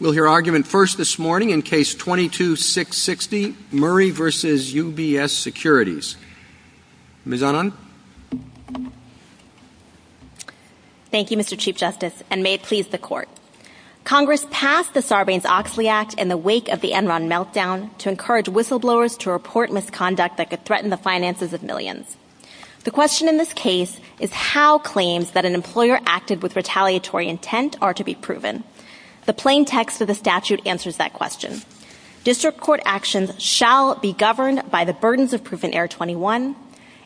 We'll hear argument first this morning in Case 22-660, Murray v. UBS Securities. Ms. Anand. Thank you, Mr. Chief Justice, and may it please the Court. Congress passed the Sarbanes-Oxley Act in the wake of the Enron meltdown to encourage whistleblowers to report misconduct that could threaten the finances of millions. The question in this case is how claims that an employer acted with retaliatory intent are to be proven. The plain text of the statute answers that question. District Court actions shall be governed by the burdens of proof in Error 21.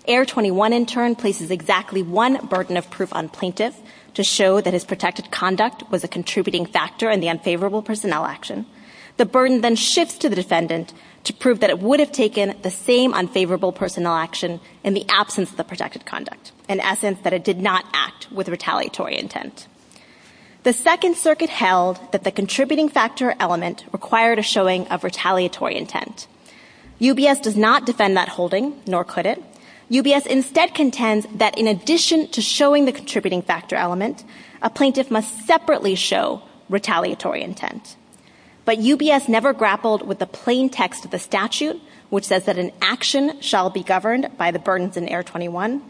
Error 21, in turn, places exactly one burden of proof on plaintiffs to show that his protective conduct was a contributing factor in the unfavorable personnel action. The burden then shifts to the descendant to prove that it would have taken the same unfavorable personnel action in the absence of protective conduct, in essence, that it did not act with retaliatory intent. The Second Circuit held that the contributing factor element required a showing of retaliatory intent. UBS does not defend that holding, nor could it. UBS instead contends that in addition to showing the contributing factor element, a plaintiff must separately show retaliatory intent. But UBS never grappled with the plain text of the statute, which says that an action shall be governed by the burdens in Error 21.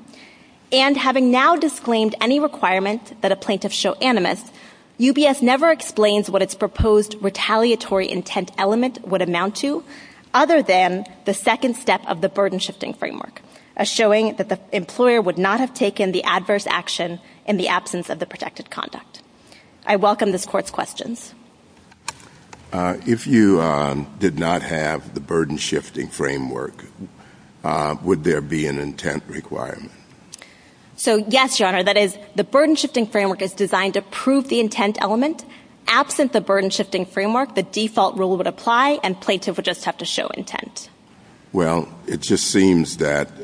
And having now disclaimed any requirements that a plaintiff show animus, UBS never explains what its proposed retaliatory intent element would amount to, other than the second step of the burden shifting framework, a showing that the employer would not have taken the adverse action in the absence of the protective conduct. I welcome this Court's questions. If you did not have the burden shifting framework, would there be an intent requirement? So, yes, Your Honor. That is, the burden shifting framework is designed to prove the intent element. Absent the burden shifting framework, the default rule would apply, and plaintiffs would just have to show intent. Well, it just seems that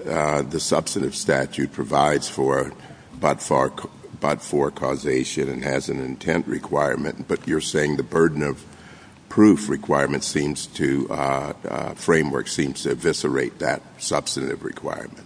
the substantive statute provides for but-for causation and has an intent requirement, but you're saying the burden of proof requirement seems to – framework seems to eviscerate that substantive requirement.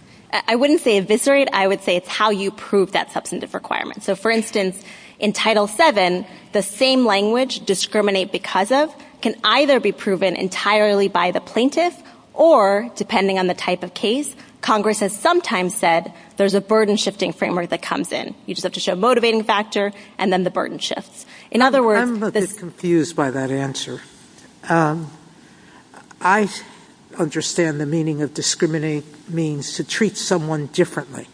I wouldn't say eviscerate. I would say it's how you prove that substantive requirement. So, for instance, in Title VII, the same language, discriminate because of, can either be proven entirely by the plaintiff or, depending on the type of case, Congress has sometimes said there's a burden shifting framework that comes in. You just have to show a motivating factor, and then the burden shifts. In other words – I'm a bit confused by that answer. I understand the meaning of discriminate means to treat someone differently,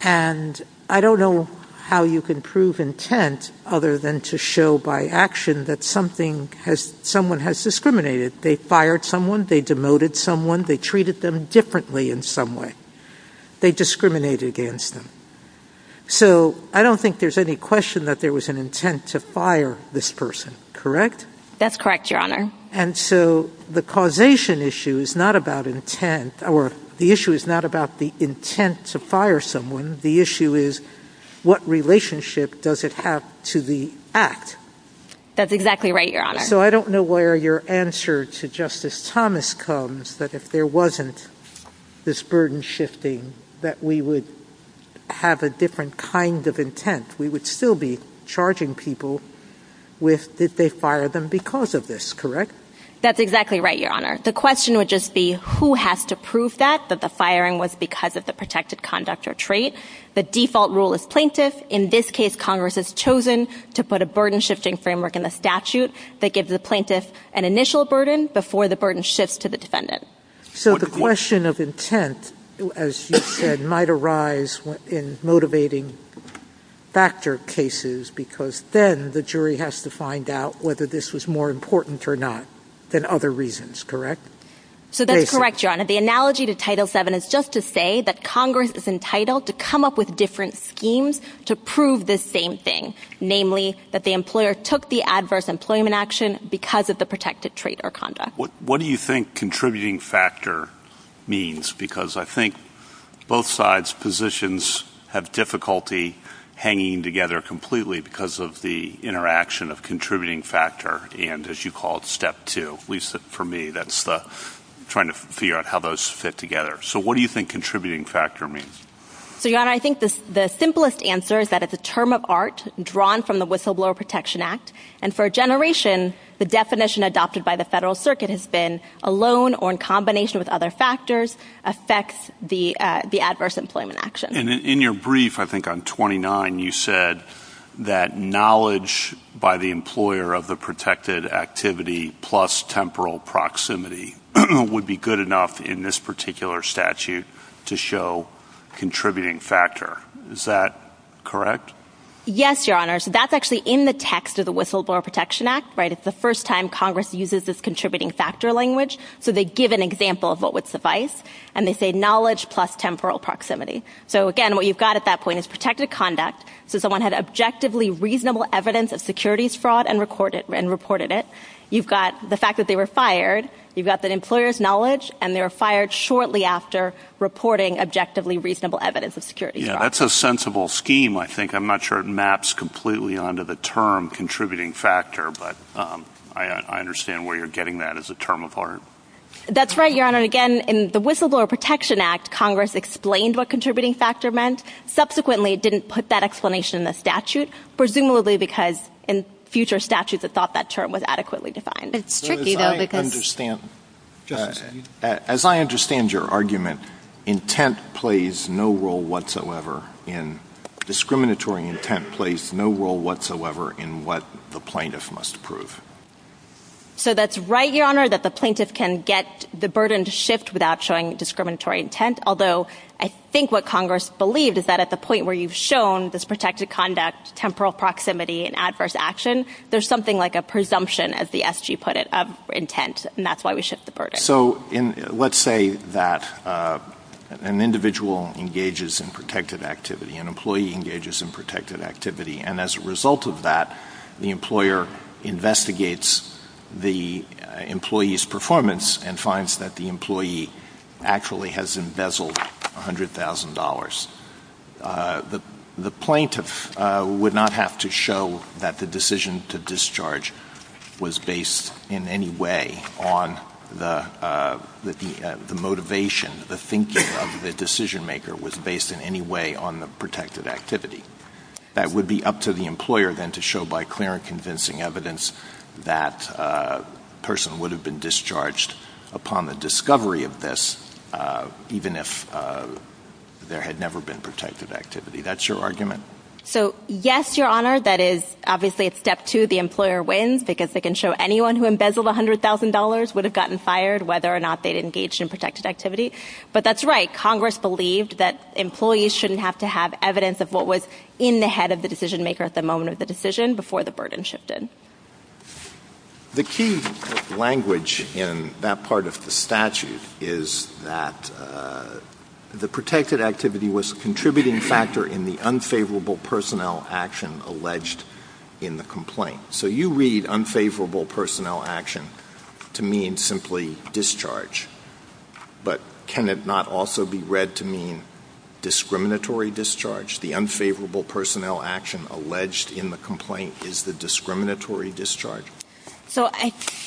and I don't know how you can prove intent other than to show by action that someone has discriminated. They fired someone. They demoted someone. They treated them differently in some way. They discriminated against them. So I don't think there's any question that there was an intent to fire this person, correct? That's correct, Your Honor. And so the causation issue is not about intent, or the issue is not about the intent to fire someone. The issue is what relationship does it have to the act? That's exactly right, Your Honor. So I don't know where your answer to Justice Thomas comes, but if there wasn't this burden shifting that we would have a different kind of intent. We would still be charging people with did they fire them because of this, correct? That's exactly right, Your Honor. The question would just be who has to prove that, that the firing was because of the protected conduct or trait. The default rule is plaintiff. In this case, Congress has chosen to put a burden shifting framework in the statute that gives the plaintiff an initial burden before the burden shifts to the defendant. So the question of intent, as you said, might arise in motivating factor cases because then the jury has to find out whether this was more important or not than other reasons, correct? So that's correct, Your Honor. The analogy to Title VII is just to say that Congress is entitled to come up with different schemes to prove the same thing, namely that the employer took the adverse employment action because of the protected trait or conduct. What do you think contributing factor means? Because I think both sides' positions have difficulty hanging together completely because of the interaction of contributing factor and, as you call it, step two. At least for me, that's trying to figure out how those fit together. So what do you think contributing factor means? So, Your Honor, I think the simplest answer is that it's a term of art drawn from the Whistleblower Protection Act. And for a generation, the definition adopted by the Federal Circuit has been a loan or in combination with other factors affects the adverse employment action. In your brief, I think on 29, you said that knowledge by the employer of the protected activity plus temporal proximity would be good enough in this particular statute to show contributing factor. Is that correct? Yes, Your Honor. So that's actually in the text of the Whistleblower Protection Act, right? It's the first time Congress uses this contributing factor language. So they give an example of what would suffice, and they say knowledge plus temporal proximity. So, again, what you've got at that point is protected conduct, so someone had objectively reasonable evidence of securities fraud and reported it. You've got the fact that they were fired. You've got the employer's knowledge, and they were fired shortly after reporting objectively reasonable evidence of securities fraud. Yeah, that's a sensible scheme, I think. I'm not sure it maps completely onto the term contributing factor, but I understand where you're getting that as a term of art. That's right, Your Honor. Again, in the Whistleblower Protection Act, Congress explained what contributing factor meant. Subsequently, it didn't put that explanation in the statute, presumably because in future statutes it thought that term was adequately defined. As I understand your argument, discriminatory intent plays no role whatsoever in what the plaintiff must prove. So that's right, Your Honor, that the plaintiff can get the burden to shift without showing discriminatory intent, although I think what Congress believed is that at the point where you've shown this protected conduct, temporal proximity, and adverse action, there's something like a presumption, as the SG put it, of intent, and that's why we shift the burden. So let's say that an individual engages in protected activity, an employee engages in protected activity, and as a result of that, the employer investigates the employee's performance and finds that the employee actually has embezzled $100,000. The plaintiff would not have to show that the decision to discharge was based in any way on the motivation, the thinking of the decision-maker was based in any way on the protected activity. That would be up to the employer then to show by clear and convincing evidence that the person would have been discharged upon the discovery of this, even if there had never been protected activity. That's your argument? So, yes, Your Honor, that is obviously a step to the employer wins because they can show anyone who embezzled $100,000 would have gotten fired, whether or not they'd engaged in protected activity. But that's right. Congress believed that employees shouldn't have to have evidence of what was in the head of the decision-maker at the moment of the decision before the burden shifted. The key language in that part of the statute is that the protected activity was a contributing factor in the unfavorable personnel action alleged in the complaint. So you read unfavorable personnel action to mean simply discharge, but can it not also be read to mean discriminatory discharge? The unfavorable personnel action alleged in the complaint is the discriminatory discharge. So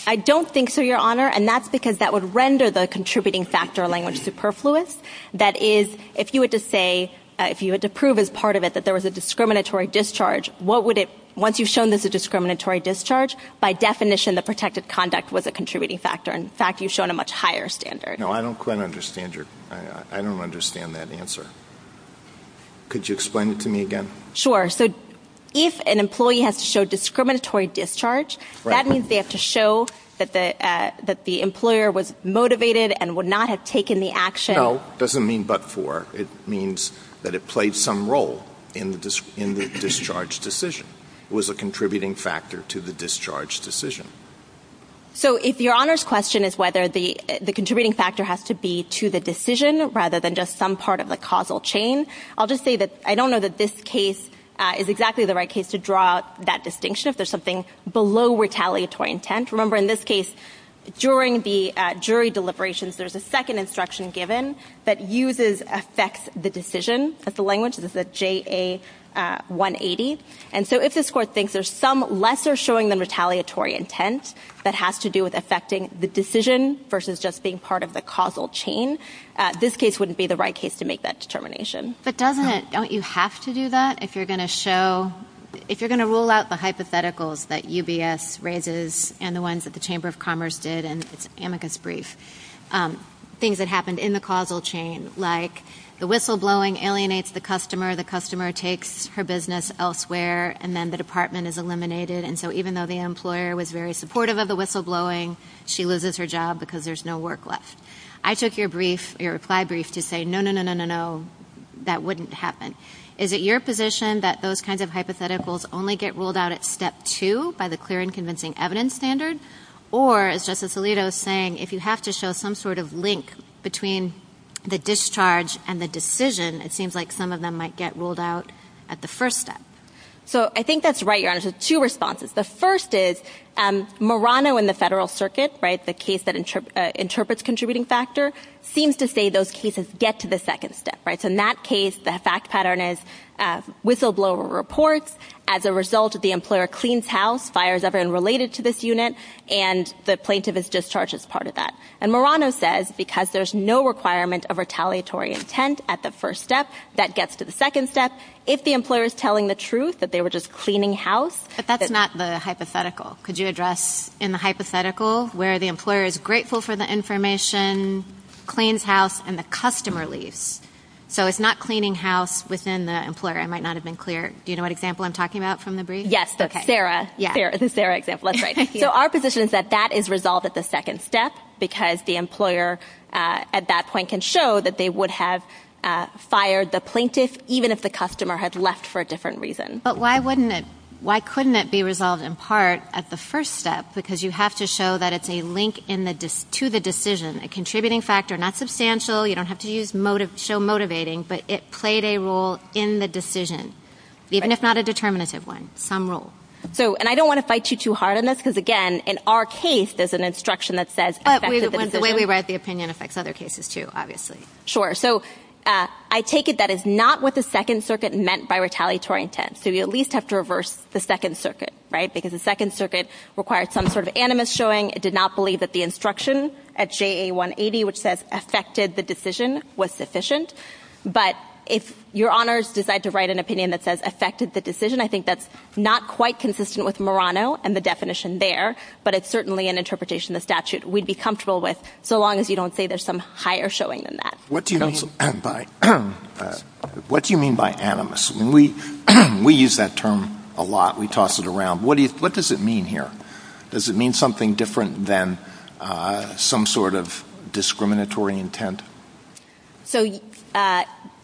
I don't think so, Your Honor, and that's because that would render the contributing factor language superfluous. That is, if you were to say, if you were to prove as part of it that there was a discriminatory discharge, what would it, once you've shown there's a discriminatory discharge, by definition the protected conduct was a contributing factor. In fact, you've shown a much higher standard. No, I don't quite understand your, I don't understand that answer. Could you explain it to me again? Sure. So if an employee has to show discriminatory discharge, that means they have to show that the employer was motivated and would not have taken the action. No, it doesn't mean but for. It means that it played some role in the discharge decision, was a contributing factor to the discharge decision. So if Your Honor's question is whether the contributing factor has to be to the decision rather than just some part of the causal chain, I'll just say that I don't know that this case is exactly the right case to draw that distinction if there's something below retaliatory intent. Remember, in this case, during the jury deliberations, there's a second instruction given that uses affects the decision. That's the language. This is a JA-180. And so if this court thinks there's some lesser showing than retaliatory intent that has to do with affecting the decision versus just being part of the causal chain, this case wouldn't be the right case to make that determination. But doesn't it – don't you have to do that if you're going to show – if you're going to rule out the hypotheticals that UBS raises and the ones that the Chamber of Commerce did in its amicus brief, things that happened in the causal chain, like the whistleblowing alienates the customer, the customer takes her business elsewhere, and then the department is eliminated. And so even though the employer was very supportive of the whistleblowing, she loses her job because there's no work left. I took your reply brief to say, no, no, no, no, no, no, that wouldn't happen. Is it your position that those kinds of hypotheticals only get ruled out at step two by the clear and convincing evidence standards? Or, as Justice Alito is saying, if you have to show some sort of link between the discharge and the decision, it seems like some of them might get ruled out at the first step. So I think that's right, Your Honor. There's two responses. The first is Murano in the Federal Circuit, the case that interprets contributing factor, seems to say those cases get to the second step. So in that case, the fact pattern is whistleblower reports. As a result, the employer cleans house, fires everyone related to this unit, and the plaintiff is discharged as part of that. And Murano says because there's no requirement of retaliatory intent at the first step, that gets to the second step. If the employer is telling the truth that they were just cleaning house, But that's not the hypothetical. Could you address in the hypothetical where the employer is grateful for the information, cleans house, and the customer leaves. So it's not cleaning house within the employer. I might not have been clear. Do you know what example I'm talking about from the brief? Yes, Sarah. Sarah, the Sarah example. That's right. So our position is that that is resolved at the second step because the employer at that point can show that they would have fired the plaintiff even if the customer had left for a different reason. But why couldn't it be resolved in part at the first step? Because you have to show that it's a link to the decision, a contributing factor, not substantial. You don't have to show motivating, but it played a role in the decision, even if not a determinative one, some role. And I don't want to fight you too hard on this because, again, in our case there's an instruction that says effective in decision. The way we write the opinion affects other cases too, obviously. Sure. So I take it that is not what the Second Circuit meant by retaliatory intent. So we at least have to reverse the Second Circuit, right, because the Second Circuit required some sort of animus showing. It did not believe that the instruction at JA180, which says affected the decision, was sufficient. But if your honors decide to write an opinion that says affected the decision, I think that's not quite consistent with Murano and the definition there, but it's certainly an interpretation of the statute we'd be comfortable with so long as you don't say there's some higher showing than that. What do you mean by animus? We use that term a lot. We toss it around. What does it mean here? Does it mean something different than some sort of discriminatory intent? So,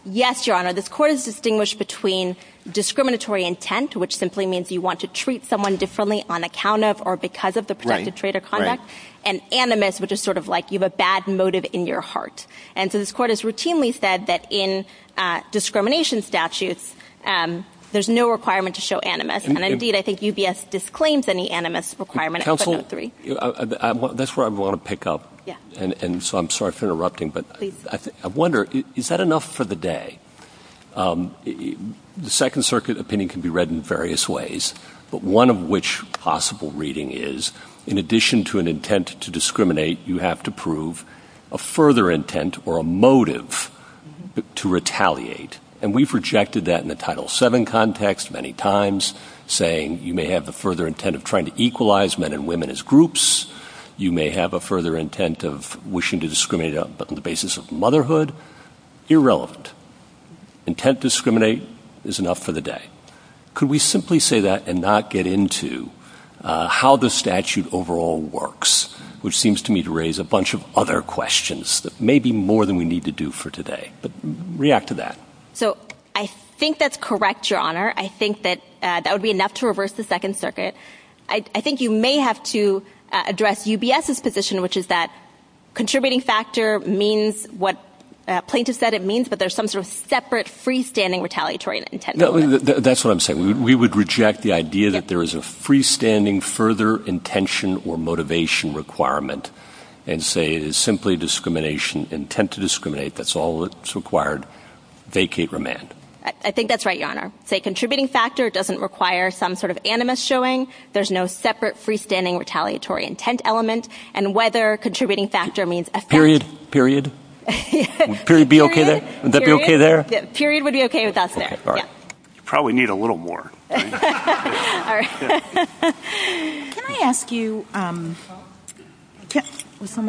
yes, Your Honor, this Court has distinguished between discriminatory intent, which simply means you want to treat someone differently on account of or because of the corrected trait of conduct, and animus, which is sort of like you have a bad motive in your heart. And so this Court has routinely said that in discrimination statutes there's no requirement to show animus. And, indeed, I think UBS disclaims any animus requirement. Counsel, that's where I want to pick up, and so I'm sorry for interrupting, but I wonder, is that enough for the day? The Second Circuit opinion can be read in various ways, but one of which possible reading is, in addition to an intent to discriminate, you have to prove a further intent or a motive to retaliate. And we've rejected that in the Title VII context many times, saying you may have a further intent of trying to equalize men and women as groups. You may have a further intent of wishing to discriminate on the basis of motherhood. Irrelevant. Intent to discriminate is enough for the day. Could we simply say that and not get into how the statute overall works, which seems to me to raise a bunch of other questions that may be more than we need to do for today? But react to that. So I think that's correct, Your Honor. I think that that would be enough to reverse the Second Circuit. I think you may have to address UBS's position, which is that contributing factor means what plaintiff said it means, but there's some sort of separate freestanding retaliatory intent. That's what I'm saying. We would reject the idea that there is a freestanding further intention or motivation requirement and say it is simply discrimination, intent to discriminate. That's all that's required. Vacate remand. I think that's right, Your Honor. Contributing factor doesn't require some sort of animus showing. There's no separate freestanding retaliatory intent element, and whether contributing factor means effect. Period. Period. Would period be okay there? Would that be okay there? Period would be okay with us there. You probably need a little more. Can I ask you one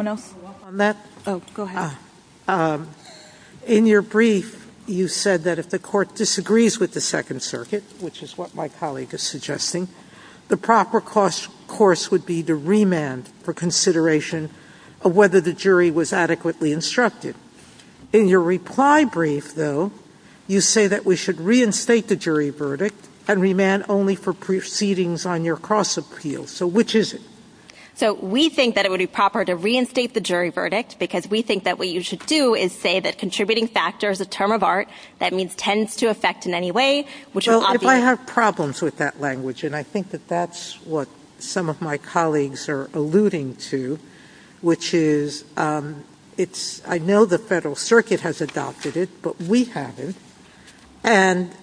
more on that? Go ahead. In your brief, you said that if the court disagrees with the Second Circuit, which is what my colleague is suggesting, the proper course would be to remand for consideration of whether the jury was adequately instructed. In your reply brief, though, you say that we should reinstate the jury verdict and remand only for proceedings on your cross-appeal. So which is it? We think that it would be proper to reinstate the jury verdict because we think that what you should do is say that contributing factor is a term of art that tends to affect in any way. If I have problems with that language, and I think that that's what some of my colleagues are alluding to, which is I know the Federal Circuit has adopted it, but we haven't, and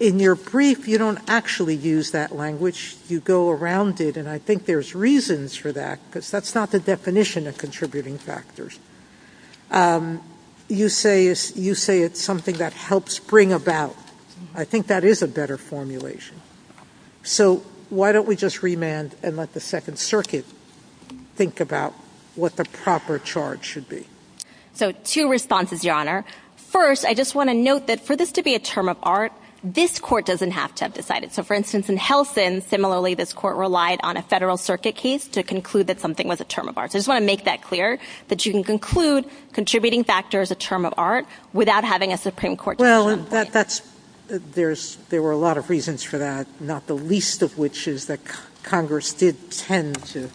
in your brief, you don't actually use that language. You go around it, and I think there's reasons for that, but that's not the definition of contributing factors. You say it's something that helps bring about. I think that is a better formulation. So why don't we just remand and let the Second Circuit think about So two responses, Your Honor. First, I just want to note that for this to be a term of art, this court doesn't have to have decided. So, for instance, in Helsin, similarly, this court relied on a Federal Circuit case to conclude that something was a term of art. I just want to make that clear, that you can conclude contributing factor is a term of art without having a Supreme Court decision. Well, there were a lot of reasons for that, not the least of which is that Congress did tend to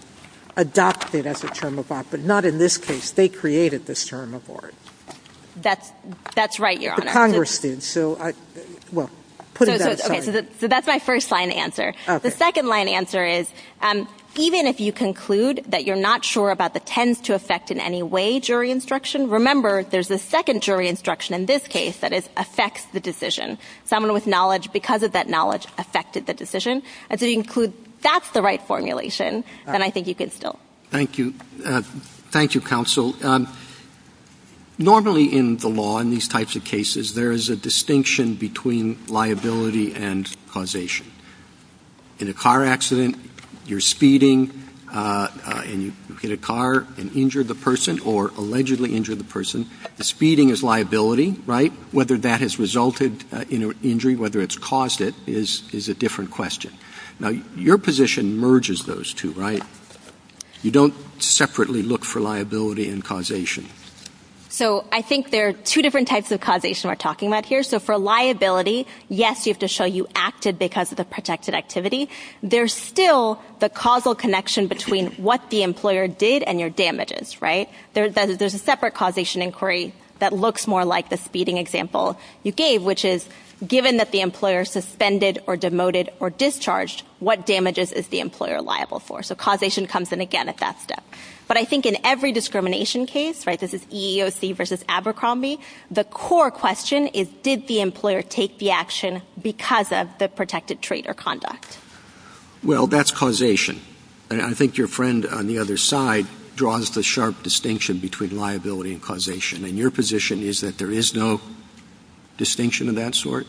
adopt it as a term of art, but not in this case. They created this term of art. That's right, Your Honor. The Congress did. So, well, put it that way. So that's my first-line answer. The second-line answer is, even if you conclude that you're not sure about the tends to affect in any way jury instruction, remember there's a second jury instruction in this case that it affects the decision. Someone with knowledge, because of that knowledge, affected the decision. And so if you conclude that's the right formulation, then I think you can still. Thank you. Thank you, Counsel. Normally in the law, in these types of cases, there is a distinction between liability and causation. In a car accident, you're speeding in a car and injured the person or allegedly injured the person. Speeding is liability, right? Whether that has resulted in an injury, whether it's caused it, is a different question. Now, your position merges those two, right? You don't separately look for liability and causation. So I think there are two different types of causation we're talking about here. So for liability, yes, you have to show you acted because of the protected activity. There's still the causal connection between what the employer did and your damages, right? There's a separate causation inquiry that looks more like the speeding example you gave, which is given that the employer suspended or demoted or discharged, what damages is the employer liable for? So causation comes in again at that step. But I think in every discrimination case, right, this is EEOC versus Abercrombie, the core question is did the employer take the action because of the protected trait or conduct? Well, that's causation. And I think your friend on the other side draws the sharp distinction between liability and causation. And your position is that there is no distinction of that sort?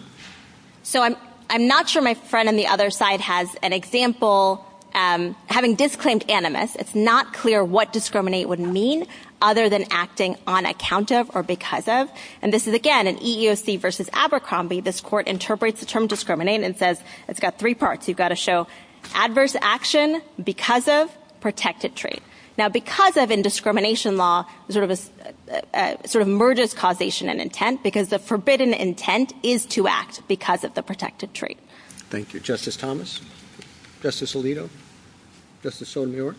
So I'm not sure my friend on the other side has an example. Having disclaimed animus, it's not clear what discriminate would mean other than acting on account of or because of. And this is again an EEOC versus Abercrombie. This court interprets the term discriminate and says it's got three parts. You've got to show adverse action because of protected trait. Now, because of in discrimination law, it sort of merges causation and intent because the forbidden intent is to act because of the protected trait. Thank you. Justice Thomas? Justice Alito? Justice Sotomayor?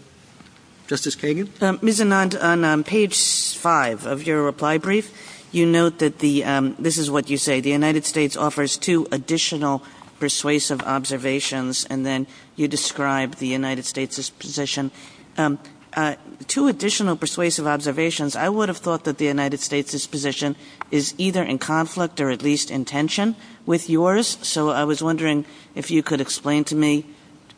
Justice Kagan? Ms. Anand, on page 5 of your reply brief, you note that the, this is what you say, the United States offers two additional persuasive observations and then you describe the United States' position. Two additional persuasive observations. I would have thought that the United States' position is either in conflict or at least in tension with yours, so I was wondering if you could explain to me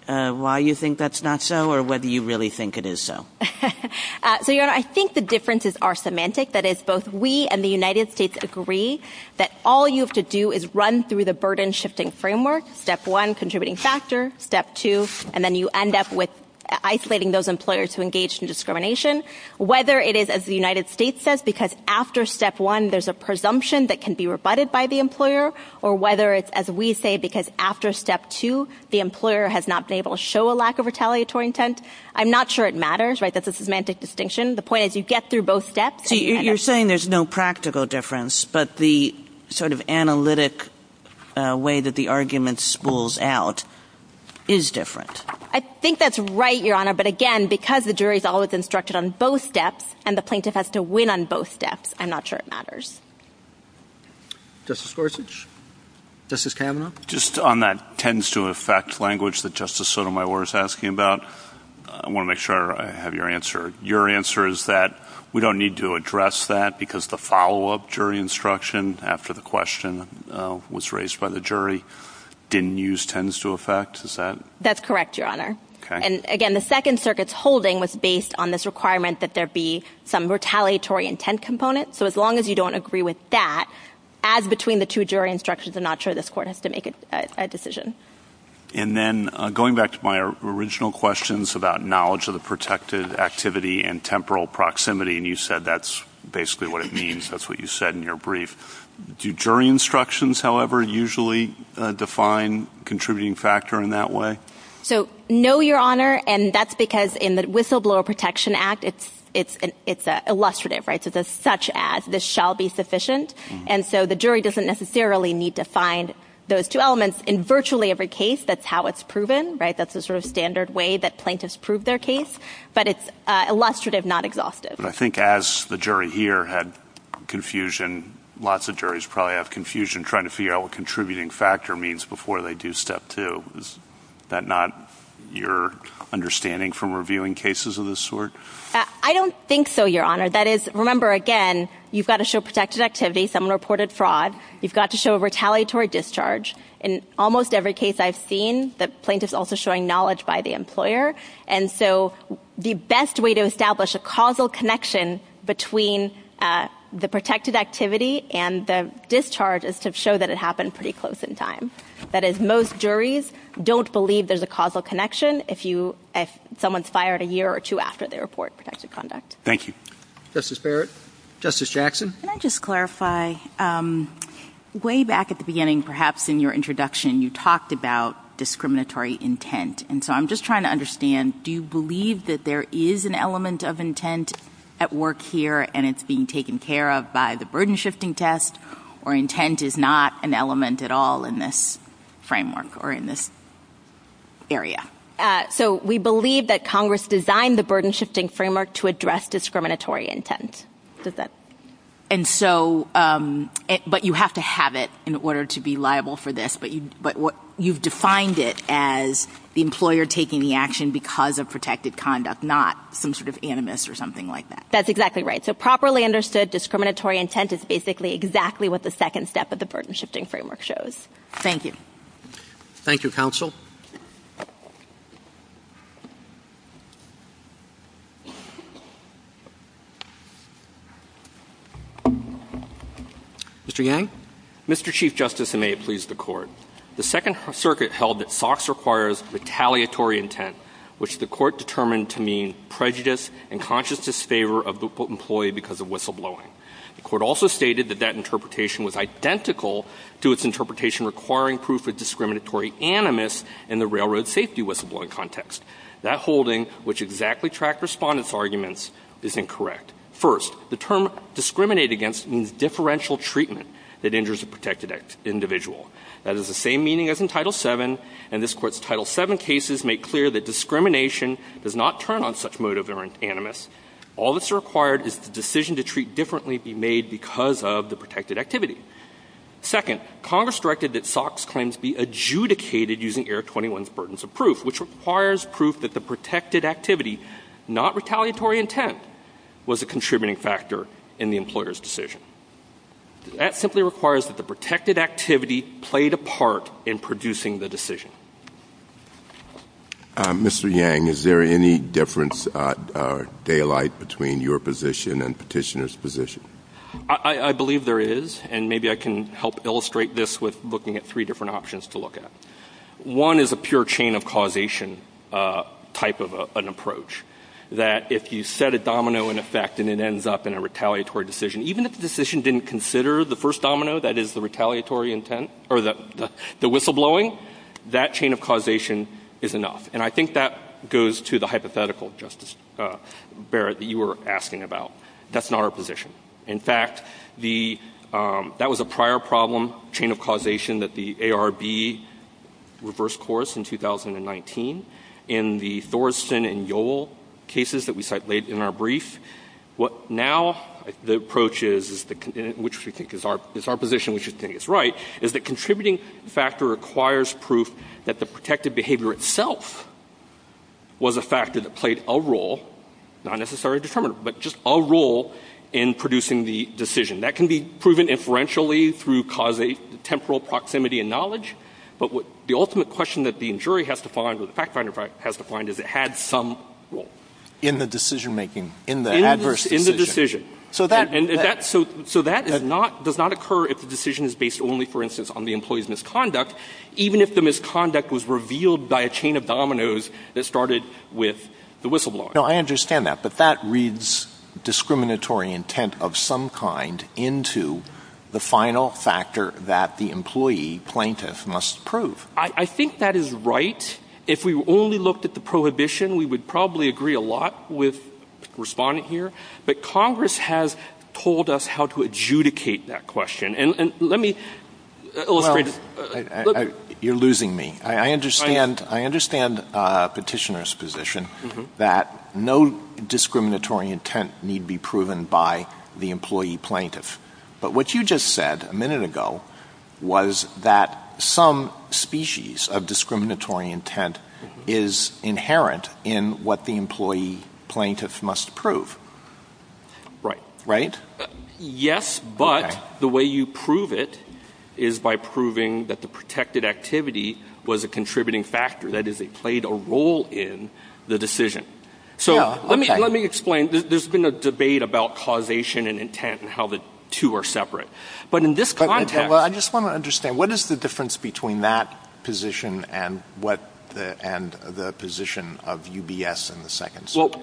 why you think that's not so or whether you really think it is so. So, Your Honor, I think the differences are semantic. That is, both we and the United States agree that all you have to do is run through the burden-shifting framework, step one, contributing factor, step two, and then you end up with isolating those employers who engage in discrimination. Whether it is, as the United States says, because after step one there's a presumption that can be rebutted by the employer or whether it's, as we say, because after step two the employer has not been able to show a lack of retaliatory intent, I'm not sure it matters, right? That's a semantic distinction. The point is you get through both steps. You're saying there's no practical difference, but the sort of analytic way that the argument spools out is different. I think that's right, Your Honor, but again, because the jury is always instructed on both steps and the plaintiff has to win on both steps, I'm not sure it matters. Justice Gorsuch? Justice Kavanaugh? Just on that tends-to-affect language that Justice Sotomayor is asking about, I want to make sure I have your answer. Your answer is that we don't need to address that because the follow-up jury instruction after the question was raised by the jury didn't use tends-to-affect? That's correct, Your Honor. And again, the Second Circuit's holding was based on this requirement that there be some retaliatory intent component, so as long as you don't agree with that, as between the two jury instructions, I'm not sure this Court has to make a decision. And then going back to my original questions about knowledge of the protected activity and temporal proximity, and you said that's basically what it means. That's what you said in your brief. Do jury instructions, however, usually define contributing factor in that way? No, Your Honor, and that's because in the Whistleblower Protection Act, it's illustrative, right? It's a such-as. This shall be sufficient. And so the jury doesn't necessarily need to find those two elements. In virtually every case, that's how it's proven, right? That's the sort of standard way that plaintiffs prove their case, but it's illustrative, not exhaustive. But I think as the jury here had confusion, lots of juries probably have confusion trying to figure out what contributing factor means before they do step two. Is that not your understanding from reviewing cases of this sort? I don't think so, Your Honor. That is, remember, again, you've got to show protected activity. Someone reported fraud. You've got to show retaliatory discharge. In almost every case I've seen, the plaintiff's also showing knowledge by the employer, and so the best way to establish a causal connection between the protected activity and the discharge is to show that it happened pretty close in time. That is, most juries don't believe there's a causal connection if someone's fired a year or two after they report protected conduct. Thank you. Justice Barrett? Justice Jackson? Can I just clarify? Way back at the beginning, perhaps in your introduction, you talked about discriminatory intent, and so I'm just trying to understand, do you believe that there is an element of intent at work here and it's being taken care of by the burden-shifting test, or intent is not an element at all in this framework or in this area? So we believe that Congress designed the burden-shifting framework to address discriminatory intent. But you have to have it in order to be liable for this, but you've defined it as the employer taking the action because of protected conduct, not some sort of animus or something like that. That's exactly right. So properly understood discriminatory intent is basically exactly what the second step of the burden-shifting framework shows. Thank you. Thank you, counsel. Mr. Yang? Mr. Chief Justice, and may it please the Court, the Second Circuit held that SOX requires retaliatory intent, which the Court determined to mean prejudice and conscious disfavor of the employee because of whistleblowing. The Court also stated that that interpretation was identical to its interpretation requiring proof of discriminatory animus in the railroad safety whistleblowing context. That holding, which exactly tracked respondents' arguments, is incorrect. First, the term discriminate against means differential treatment that injures a protected individual. That has the same meaning as in Title VII, and this Court's Title VII cases make clear that discrimination does not turn on such motive or animus. All that's required is the decision to treat differently be made because of the protected activity. Second, Congress directed that SOX claims be adjudicated using Eric 21's burdens of proof, which requires proof that the protected activity, not retaliatory intent, was a contributing factor in the employer's decision. That simply requires that the protected activity played a part in producing the decision. Mr. Yang, is there any difference or daylight between your position and Petitioner's position? I believe there is, and maybe I can help illustrate this with looking at three different options to look at. One is a pure chain of causation type of an approach, that if you set a domino in effect and it ends up in a retaliatory decision, even if the decision didn't consider the first domino, that is, the retaliatory intent, or the whistleblowing, that chain of causation is enough. And I think that goes to the hypothetical, Justice Barrett, that you were asking about. That's not our position. In fact, that was a prior problem, chain of causation that the ARB reversed course in 2019 in the Thorsen and Yoel cases that we cited in our brief. What now the approach is, which we think is our position, which we think is right, is the contributing factor requires proof that the protected behavior itself was a factor that played a role, not necessarily a determinant, but just a role in producing the decision. That can be proven inferentially through causal temporal proximity and knowledge, but the ultimate question that the jury has to find or the fact finder has to find is it had some role. In the decision-making, in the adverse decision. In the decision. So that does not occur if the decision is based only, for instance, on the employee's misconduct, even if the misconduct was revealed by a chain of dominoes that started with the whistleblowing. No, I understand that, but that reads discriminatory intent of some kind into the final factor that the employee plaintiff must prove. I think that is right. If we only looked at the prohibition, we would probably agree a lot with the respondent here, but Congress has told us how to adjudicate that question, and let me illustrate it. You're losing me. I understand Petitioner's position that no discriminatory intent need be proven by the employee plaintiff, but what you just said a minute ago was that some species of discriminatory intent is inherent in what the employee plaintiff must prove. Right. Right? Yes, but the way you prove it is by proving that the protected activity was a contributing factor, that is, it played a role in the decision. So let me explain. There's been a debate about causation and intent and how the two are separate, but in this context, I just want to understand, what is the difference between that position and the position of UBS in the Second Circuit?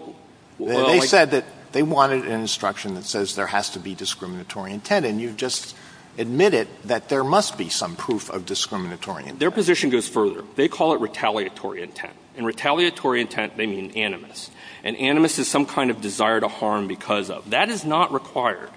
They said that they wanted an instruction that says there has to be discriminatory intent, and you just admitted that there must be some proof of discriminatory intent. Their position goes further. They call it retaliatory intent, and retaliatory intent, they mean animus, and animus is some kind of desire to harm because of. That is not required.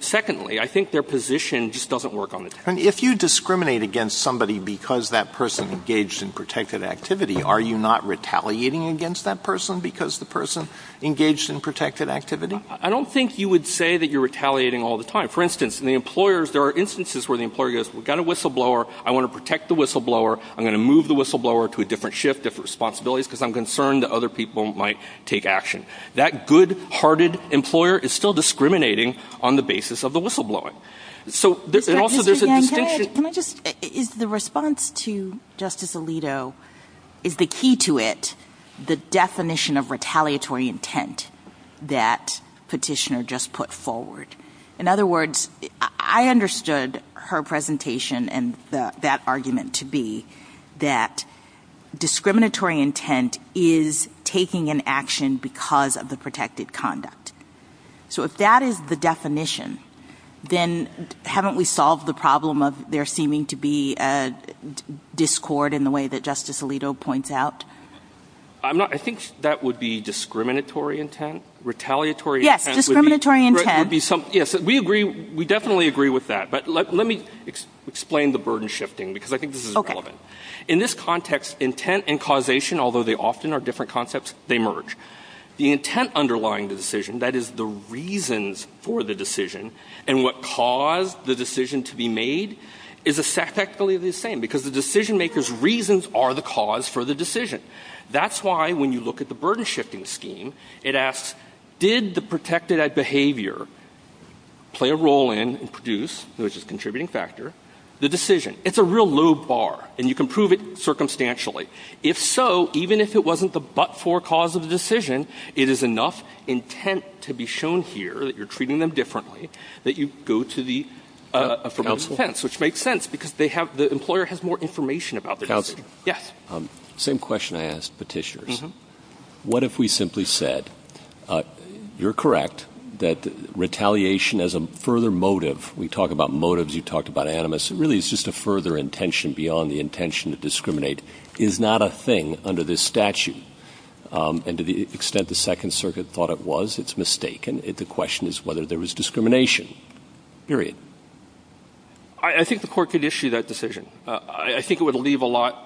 Secondly, I think their position just doesn't work on the table. If you discriminate against somebody because that person engaged in protected activity, are you not retaliating against that person because the person engaged in protected activity? I don't think you would say that you're retaliating all the time. For instance, in the employers, there are instances where the employer goes, we've got a whistleblower, I want to protect the whistleblower, I'm going to move the whistleblower to a different shift, different responsibilities, because I'm concerned that other people might take action. That good-hearted employer is still discriminating on the basis of the whistleblowing. So also there's a distinction. Can I just, is the response to Justice Alito, is the key to it the definition of retaliatory intent that Petitioner just put forward? In other words, I understood her presentation and that argument to be that discriminatory intent is taking an action because of the protected conduct. So if that is the definition, then haven't we solved the problem of there seeming to be a discord in the way that Justice Alito points out? I think that would be discriminatory intent, retaliatory intent. Yes, discriminatory intent. We definitely agree with that, but let me explain the burden shifting, because I think this is relevant. In this context, intent and causation, although they often are different concepts, they merge. The intent underlying the decision, that is the reasons for the decision, and what caused the decision to be made, is exactly the same, because the decision-maker's reasons are the cause for the decision. That's why when you look at the burden shifting scheme, it asks, did the protected behavior play a role in and produce, which is a contributing factor, the decision? It's a real low bar, and you can prove it circumstantially. If so, even if it wasn't the but-for cause of the decision, it is enough intent to be shown here, that you're treating them differently, that you go to the affirmative defense, which makes sense, because the employer has more information about the decision. Same question I asked Petitius. What if we simply said, you're correct that retaliation as a further motive, we talk about motives, you talked about animus, really it's just a further intention beyond the intention to discriminate, is not a thing under this statute? And to the extent the Second Circuit thought it was, it's mistaken. The question is whether there was discrimination. Period. I think the court could issue that decision. I think it would leave a lot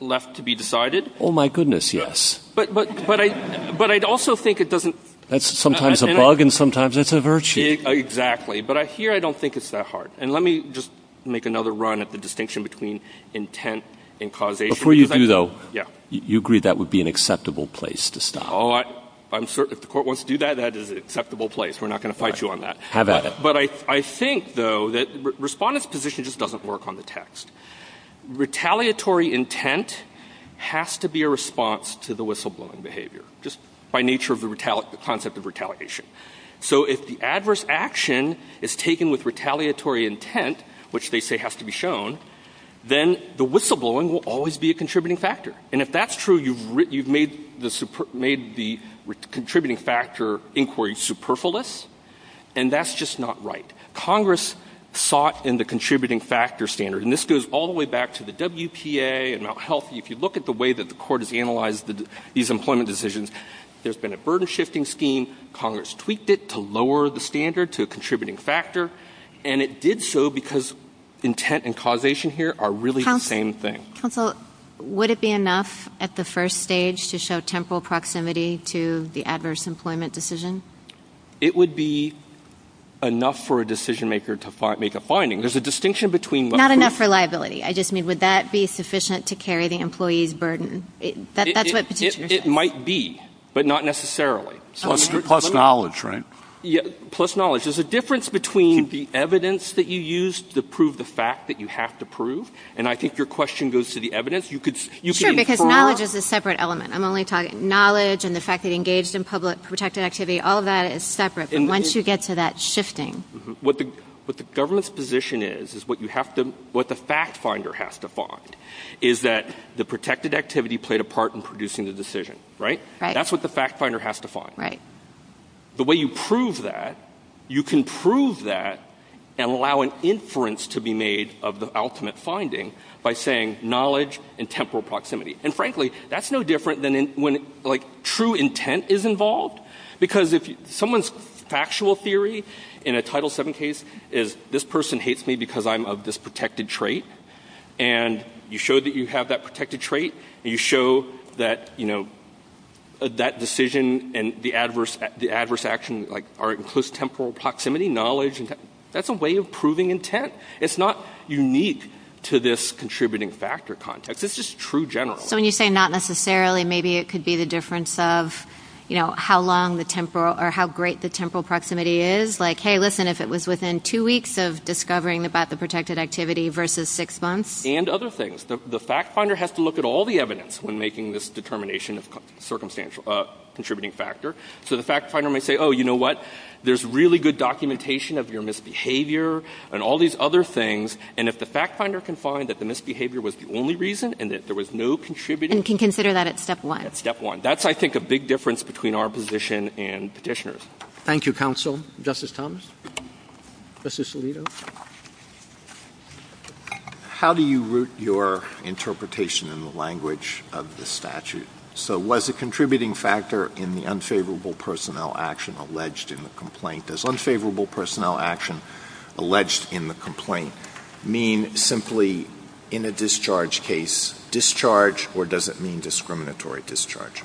left to be decided. Oh, my goodness, yes. But I'd also think it doesn't... That's sometimes a bug and sometimes it's a virtue. Exactly. But here I don't think it's that hard. And let me just make another run at the distinction between intent and causation. Before you do, though, you agree that would be an acceptable place to stop. Oh, I'm certain if the court wants to do that, that is an acceptable place. We're not going to fight you on that. How about it? But I think, though, that the respondent's position just doesn't work on the text. Retaliatory intent has to be a response to the whistleblowing behavior, just by nature of the concept of retaliation. So if the adverse action is taken with retaliatory intent, which they say has to be shown, then the whistleblowing will always be a contributing factor. And if that's true, you've made the contributing factor inquiry superfluous, and that's just not right. Congress sought in the contributing factor standard, and this goes all the way back to the WPA and Mt. Healthy. If you look at the way that the court has analyzed these employment decisions, there's been a burden-shifting scheme. Congress tweaked it to lower the standard to a contributing factor, and it did so because intent and causation here are really the same thing. Counsel, would it be enough at the first stage to show temporal proximity to the adverse employment decision? It would be enough for a decision-maker to make a finding. There's a distinction between... Not enough reliability. I just mean, would that be sufficient to carry the employee's burden? It might be, but not necessarily. Plus knowledge, right? Yeah, plus knowledge. There's a difference between the evidence that you use to prove the fact that you have to prove, and I think your question goes to the evidence. Sure, because knowledge is a separate element. I'm only talking knowledge and the fact that engaged in public protected activity, all that is separate. Once you get to that shifting... What the government's position is is what the fact-finder has to find is that the protected activity played a part in producing the decision, right? That's what the fact-finder has to find. Right. The way you prove that, you can prove that and allow an inference to be made of the ultimate finding by saying knowledge and temporal proximity. And frankly, that's no different than when true intent is involved because if someone's factual theory in a Title VII case is, this person hates me because I'm of this protected trait, and you show that you have that protected trait, and you show that, you know, that decision and the adverse action are in close temporal proximity, knowledge and... That's a way of proving intent. It's not unique to this contributing factor context. It's just true generally. So when you say not necessarily, maybe it could be the difference of, you know, how long the temporal... or how great the temporal proximity is. Like, hey, listen, if it was within two weeks of discovering about the protected activity versus six months. And other things. The fact-finder has to look at all the evidence when making this determination of contributing factor. So the fact-finder may say, oh, you know what? There's really good documentation of your misbehavior and all these other things, and if the fact-finder can find that the misbehavior was the only reason and that there was no contributing... And can consider that at step one. At step one. That's, I think, a big difference between our position and petitioners'. Thank you, counsel. Justice Thomas? Justice Alito? How do you root your interpretation in the language of the statute? So was a contributing factor in the unfavorable personnel action alleged in the complaint? Does unfavorable personnel action alleged in the complaint mean simply in a discharge case, discharge, or does it mean discriminatory discharge?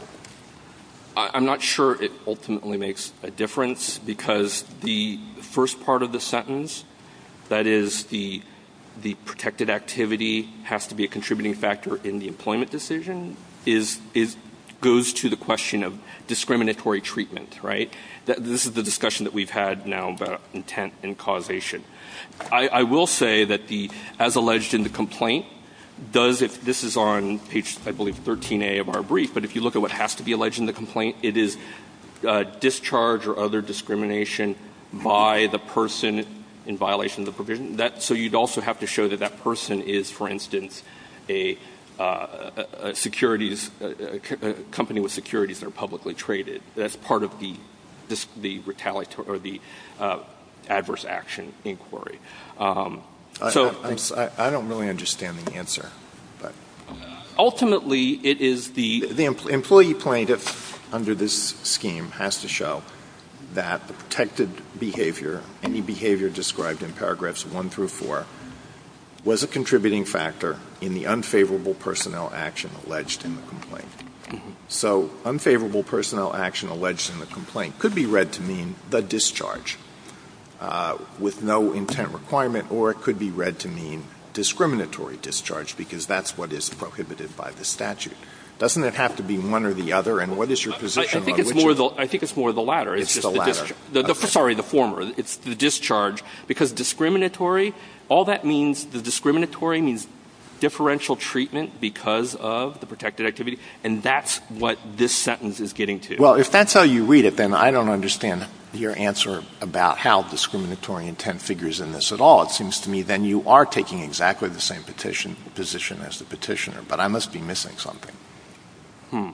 I'm not sure it ultimately makes a difference because the first part of the sentence, that is, the protected activity has to be a contributing factor in the employment decision, goes to the question of discriminatory treatment, right? This is the discussion that we've had now about intent and causation. I will say that as alleged in the complaint, this is on page, I believe, 13A of our brief, but if you look at what has to be alleged in the complaint, it is discharge or other discrimination by the person in violation of the provision. So you'd also have to show that that person is, for instance, a company with securities that are publicly traded. That's part of the adverse action inquiry. I don't really understand the answer. Ultimately, it is the... The employee plaintiff under this scheme has to show that protected behavior, any behavior described in paragraphs one through four, was a contributing factor in the unfavorable personnel action alleged in the complaint. So unfavorable personnel action alleged in the complaint could be read to mean the discharge with no intent requirement or it could be read to mean discriminatory discharge because that's what is prohibited by the statute. Doesn't it have to be one or the other? I think it's more the latter. It's the latter. Sorry, the former. It's the discharge. Because discriminatory, all that means, the discriminatory means differential treatment because of the protected activity, and that's what this sentence is getting to. Well, if that's how you read it, then I don't understand your answer about how discriminatory intent figures in this at all. It seems to me then you are taking exactly the same position as the petitioner, but I must be missing something. Hmm.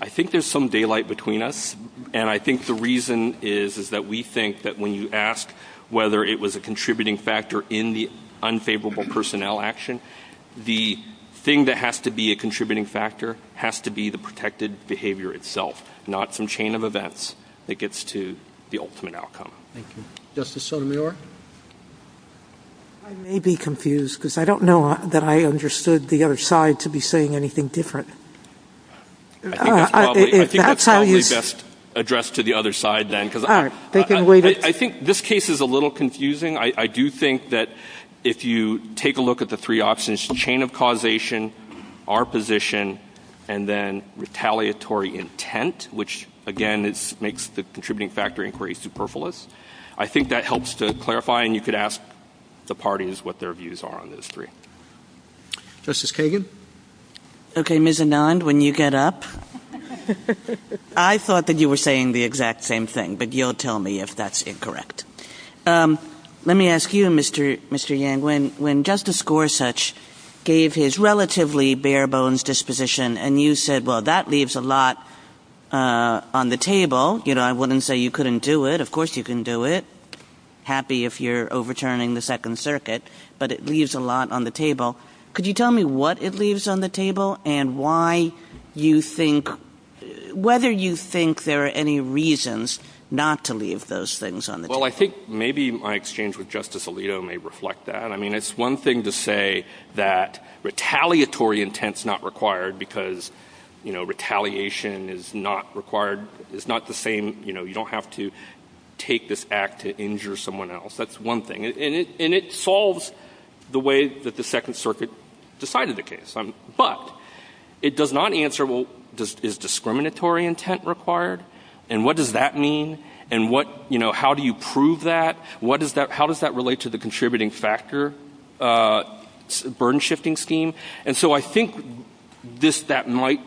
I think there's some daylight between us, and I think the reason is that we think that when you ask whether it was a contributing factor in the unfavorable personnel action, the thing that has to be a contributing factor has to be the protected behavior itself, not some chain of events that gets to the ultimate outcome. Thank you. Justice Sotomayor? I may be confused because I don't know that I understood the other side to be saying anything different. I think that's probably best addressed to the other side then. All right. I think this case is a little confusing. I do think that if you take a look at the three options, chain of causation, our position, and then retaliatory intent, which, again, makes the contributing factor increase superfluous, I think that helps to clarify, and you could ask the parties what their views are on those three. Justice Kagan? Okay, Ms. Anand, when you get up. I thought that you were saying the exact same thing, but you'll tell me if that's incorrect. Let me ask you, Mr. Yang, when Justice Gorsuch gave his relatively bare-bones disposition and you said, well, that leaves a lot on the table. You know, I wouldn't say you couldn't do it. Of course you can do it. Happy if you're overturning the Second Circuit, but it leaves a lot on the table. Could you tell me what it leaves on the table and why you think, whether you think there are any reasons not to leave those things on the table? Well, I think maybe my exchange with Justice Alito may reflect that. I mean, it's one thing to say that retaliatory intent's not required because, you know, retaliation is not required, it's not the same, you know, you don't have to take this act to injure someone else. That's one thing. And it solves the way that the Second Circuit decided the case. But it does not answer, well, is discriminatory intent required? And what does that mean? And what, you know, how do you prove that? How does that relate to the contributing factor burden-shifting scheme? And so I think that might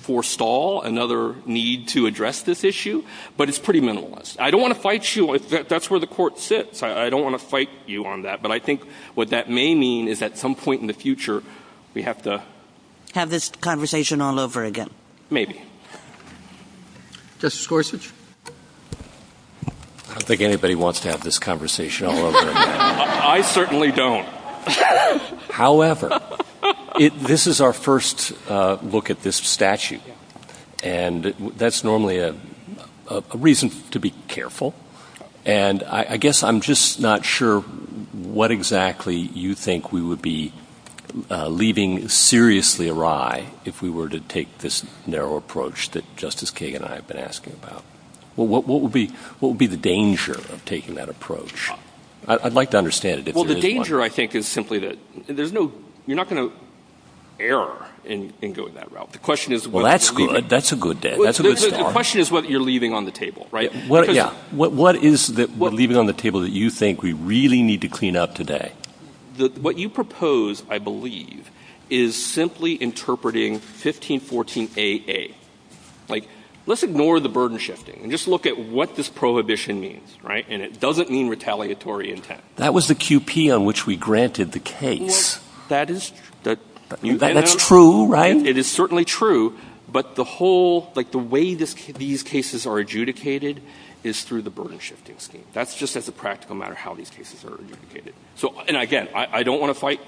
forestall another need to address this issue, but it's pretty minimalist. I don't want to fight you if that's where the Court sits. I don't want to fight you on that. But I think what that may mean is at some point in the future we have to- Have this conversation all over again. Maybe. Justice Gorsuch? I don't think anybody wants to have this conversation all over again. I certainly don't. However, this is our first look at this statute, and that's normally a reason to be careful. And I guess I'm just not sure what exactly you think we would be leaving seriously awry if we were to take this narrow approach that Justice Kagan and I have been asking about. What would be the danger of taking that approach? I'd like to understand it. Well, the danger, I think, is simply that there's no-you're not going to err in going that route. The question is- Well, that's good. That's a good- The question is whether you're leaving on the table, right? Yeah. What is it we're leaving on the table that you think we really need to clean up today? What you propose, I believe, is simply interpreting 1514AA. Like, let's ignore the burden shifting and just look at what this prohibition means, right? And it doesn't mean retaliatory intent. That was the QP on which we granted the case. That is- That's true, right? It is certainly true, but the whole-like, the way these cases are adjudicated is through the burden shifting scheme. That's just as a practical matter how these cases are adjudicated. So-and, again, I don't want to fight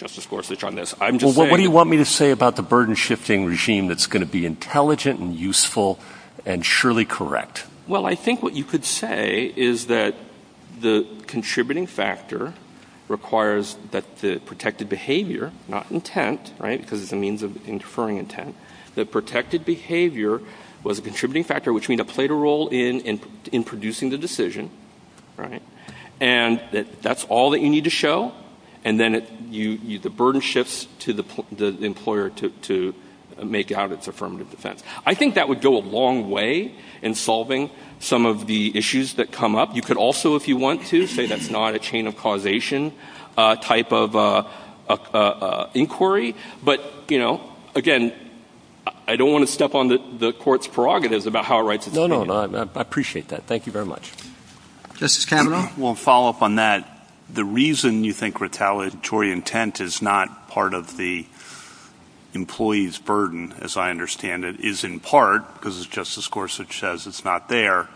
Justice Gorsuch on this. I'm just saying- Well, what do you want me to say about the burden shifting regime that's going to be intelligent and useful and surely correct? Well, I think what you could say is that the contributing factor requires that the protected behavior, not intent, right, because it's a means of inferring intent, that protected behavior was a contributing factor, which means it played a role in producing the decision, right, and that that's all that you need to show, and then the burden shifts to the employer to make out its affirmative defense. I think that would go a long way in solving some of the issues that come up. You could also, if you want to, say that's not a chain of causation type of inquiry, but, you know, again, I don't want to step on the Court's prerogatives about how it writes its- No, no, no, I appreciate that. Thank you very much. Justice Cameron? Well, to follow up on that, the reason you think retaliatory intent is not part of the employee's burden, as I understand it, is in part because Justice Gorsuch says it's not there,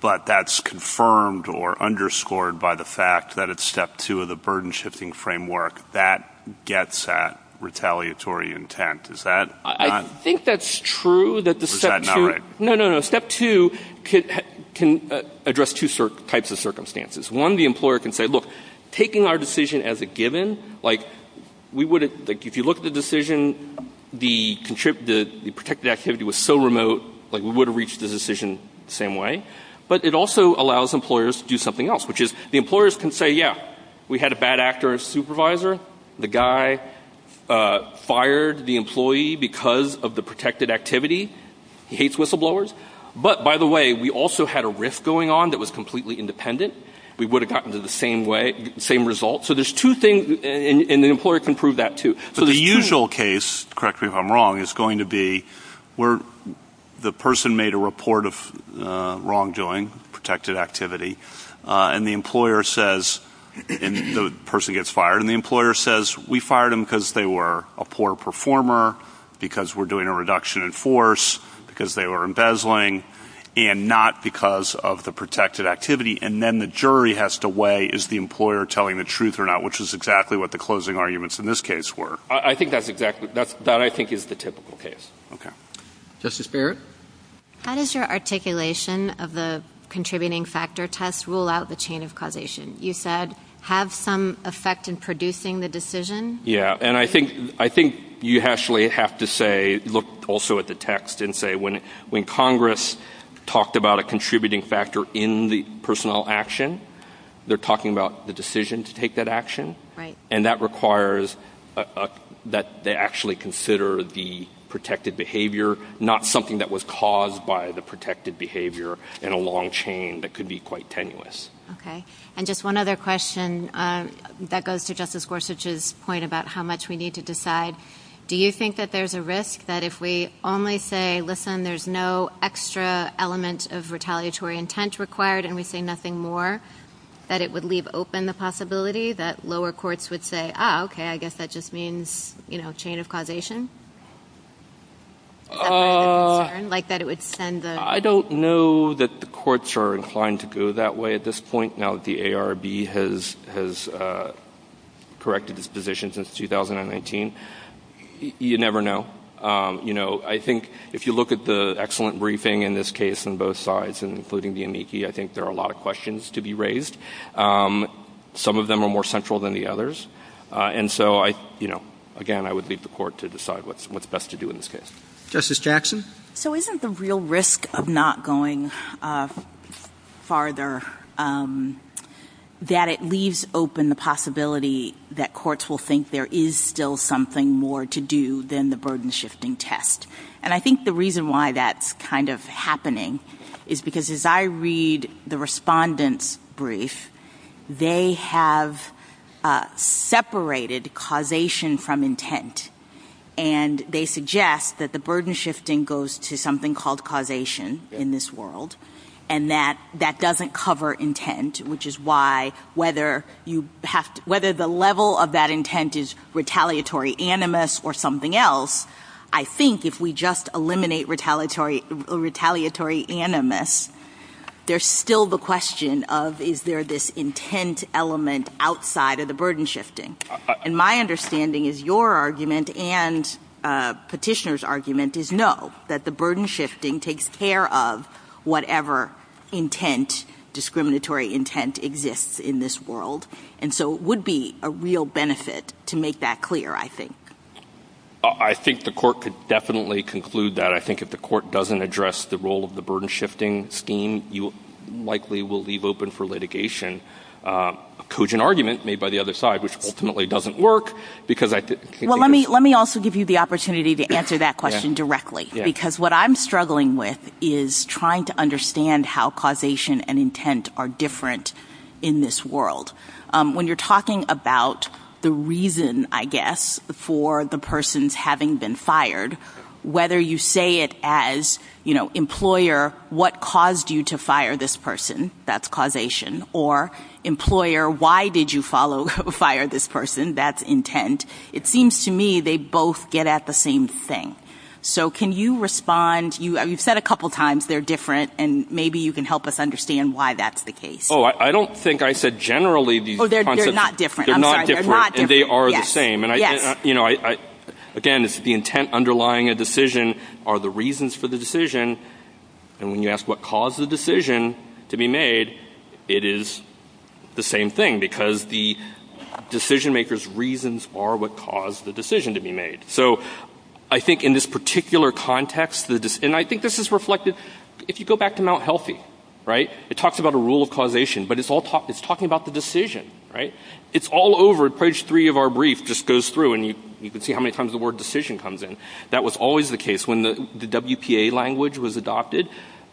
but that's confirmed or underscored by the fact that it's Step 2 of the burden shifting framework that gets at retaliatory intent. Is that not- I think that's true that the Step 2- Or is that not right? No, no, no. Step 2 can address two types of circumstances. One, the employer can say, look, taking our decision as a given, like, we wouldn't- like, we would have reached the decision the same way, but it also allows employers to do something else, which is the employers can say, yeah, we had a bad actor as supervisor. The guy fired the employee because of the protected activity. He hates whistleblowers. But, by the way, we also had a risk going on that was completely independent. We would have gotten to the same way-same result. So there's two things, and the employer can prove that, too. So the usual case-correct me if I'm wrong-is going to be where the person made a report of wrongdoing, protected activity, and the employer says-and the person gets fired-and the employer says, we fired them because they were a poor performer, because we're doing a reduction in force, because they were embezzling, and not because of the protected activity. And then the jury has to weigh, is the employer telling the truth or not, which is exactly what the closing arguments in this case were. I think that's exactly-that, I think, is the typical case. Okay. Justice Barrett? How does your articulation of the contributing factor test rule out the chain of causation? You said, has some effect in producing the decision? Yeah, and I think you actually have to say-look also at the text-and say, when Congress talked about a contributing factor in the personnel action, they're talking about the decision to take that action. Right. And that requires that they actually consider the protected behavior, not something that was caused by the protected behavior in a long chain that could be quite tenuous. Okay. And just one other question that goes to Justice Gorsuch's point about how much we need to decide. Do you think that there's a risk that if we only say, listen, there's no extra element of retaliatory intent required and we say nothing more, that it would leave open the possibility that lower courts would say, ah, okay, I guess that just means, you know, chain of causation? Like that it would send a- I don't know that the courts are inclined to go that way at this point, now that the ARB has corrected its position since 2019. You never know. You know, I think if you look at the excellent briefing in this case on both sides, including the amici, I think there are a lot of questions to be raised. Some of them are more central than the others. And so, you know, again, I would leave the court to decide what's best to do in this case. Justice Jackson? So isn't the real risk of not going farther that it leaves open the possibility that courts will think there is still something more to do than the burden-shifting test? And I think the reason why that's kind of happening is because as I read the respondents' brief, they have separated causation from intent. And they suggest that the burden-shifting goes to something called causation in this world, and that that doesn't cover intent, which is why whether you have-whether the level of that intent is retaliatory animus or something else, I think if we just eliminate retaliatory animus, there's still the question of is there this intent element outside of the burden-shifting. And my understanding is your argument and Petitioner's argument is no, that the burden-shifting takes care of whatever intent, discriminatory intent, exists in this world. And so it would be a real benefit to make that clear, I think. I think the court could definitely conclude that. I think if the court doesn't address the role of the burden-shifting scheme, you likely will leave open for litigation a cogent argument made by the other side, which ultimately doesn't work, because I think- Well, let me also give you the opportunity to answer that question directly, because what I'm struggling with is trying to understand how causation and intent are different in this world. When you're talking about the reason, I guess, for the persons having been fired, whether you say it as, you know, employer, what caused you to fire this person, that's causation, or employer, why did you fire this person, that's intent. It seems to me they both get at the same thing. So can you respond-you've said a couple times they're different, and maybe you can help us understand why that's the case. Oh, I don't think I said generally these- Oh, they're not different. They're not different, and they are the same. And, you know, again, it's the intent underlying a decision are the reasons for the decision. And when you ask what caused the decision to be made, it is the same thing, because the decision maker's reasons are what caused the decision to be made. So I think in this particular context-and I think this is reflected- if you go back to Mount Healthy, right, it talks about a rule of causation, but it's talking about the decision, right? It's all over. Page 3 of our brief just goes through, and you can see how many times the word decision comes in. That was always the case. When the WPA language was adopted,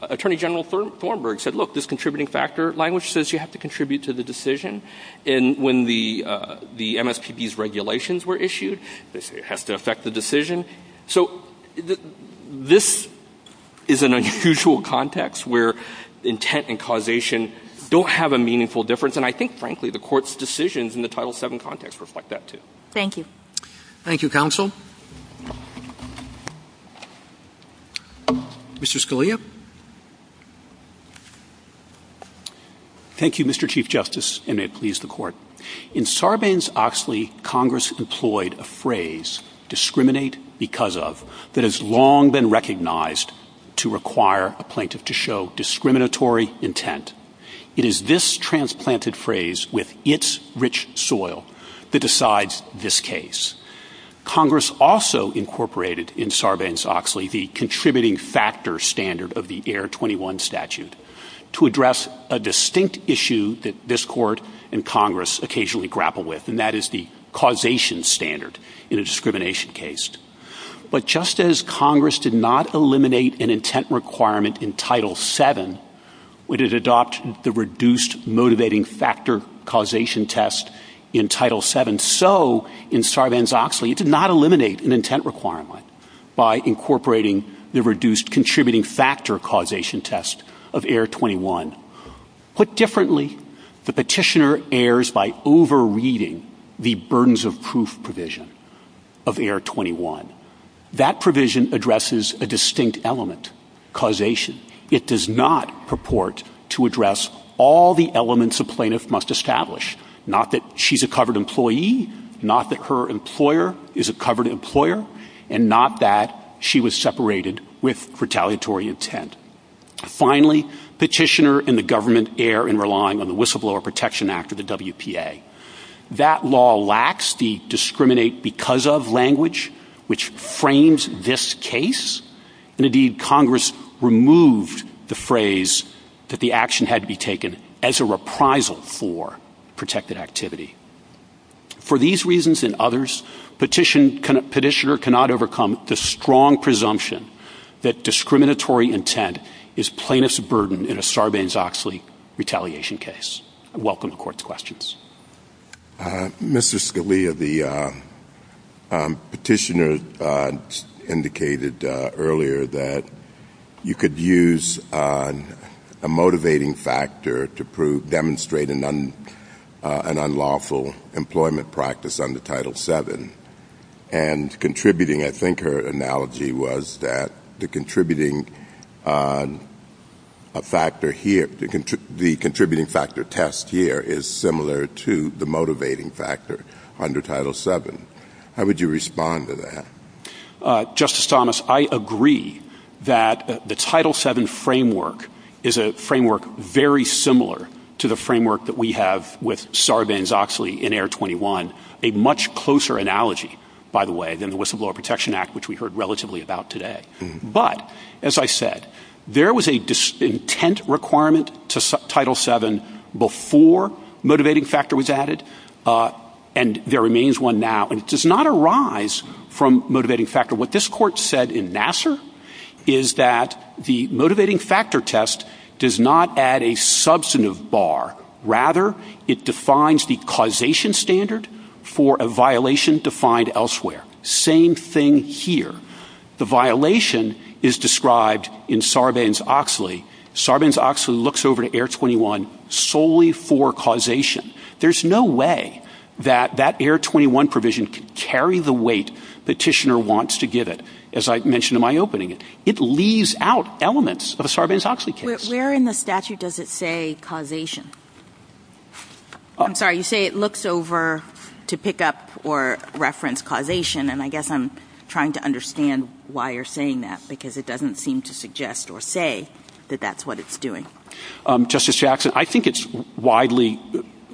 Attorney General Thornburg said, look, this contributing factor language says you have to contribute to the decision. And when the MSPB's regulations were issued, it has to affect the decision. So this is an unusual context where intent and causation don't have a meaningful difference, and I think, frankly, the Court's decisions in the Title VII context reflect that, too. Thank you. Thank you, Counsel. Mr. Scalia. Thank you, Mr. Chief Justice, and may it please the Court. In Sarbanes-Oxley, Congress employed a phrase, discriminate because of, that has long been recognized to require a plaintiff to show discriminatory intent. It is this transplanted phrase with its rich soil that decides this case. Congress also incorporated in Sarbanes-Oxley the contributing factor standard of the Air 21 statute to address a distinct issue that this Court and Congress occasionally grapple with, and that is the causation standard in a discrimination case. But just as Congress did not eliminate an intent requirement in Title VII, when it adopted the reduced motivating factor causation test in Title VII, so in Sarbanes-Oxley it did not eliminate an intent requirement by incorporating the reduced contributing factor causation test of Air 21. Put differently, the petitioner errs by over-reading the burdens of proof provision of Air 21. That provision addresses a distinct element, causation. It does not purport to address all the elements a plaintiff must establish, not that she's a covered employee, not that her employer is a covered employer, and not that she was separated with retaliatory intent. Finally, petitioner and the government err in relying on the Whistleblower Protection Act of the WPA. That law lacks the discriminate because of language which frames this case, and indeed Congress removed the phrase that the action had to be taken as a reprisal for protected activity. For these reasons and others, petitioner cannot overcome the strong presumption that discriminatory intent is plaintiff's burden in a Sarbanes-Oxley retaliation case. I welcome the Court's questions. Mr. Scalia, the petitioner indicated earlier that you could use a motivating factor to demonstrate an unlawful employment practice under Title VII, and contributing, I think her analogy was that the contributing factor here, the contributing factor test here is similar to the motivating factor under Title VII. How would you respond to that? Justice Thomas, I agree that the Title VII framework is a framework very similar to the framework that we have with Sarbanes-Oxley in Air 21, a much closer analogy, by the way, than the Whistleblower Protection Act, which we heard relatively about today. But, as I said, there was an intent requirement to Title VII before motivating factor was added, and there remains one now, and it does not arise from motivating factor. What this Court said in Nassar is that the motivating factor test does not add a substantive bar. Rather, it defines the causation standard for a violation defined elsewhere. Same thing here. The violation is described in Sarbanes-Oxley. Sarbanes-Oxley looks over to Air 21 solely for causation. There's no way that that Air 21 provision could carry the weight the petitioner wants to give it, as I mentioned in my opening. It leaves out elements of a Sarbanes-Oxley case. Where in the statute does it say causation? I'm sorry. You say it looks over to pick up or reference causation, and I guess I'm trying to understand why you're saying that, because it doesn't seem to suggest or say that that's what it's doing. Justice Jackson, I think it's widely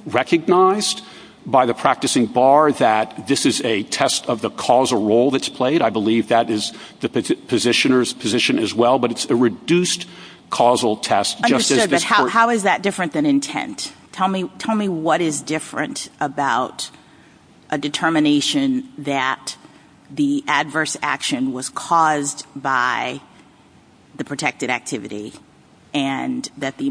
recognized by the practicing bar that this is a test of the causal role that's played. I believe that is the positioner's position as well, but it's a reduced causal test. How is that different than intent? Tell me what is different about a determination that the adverse action was caused by the protected activity and that the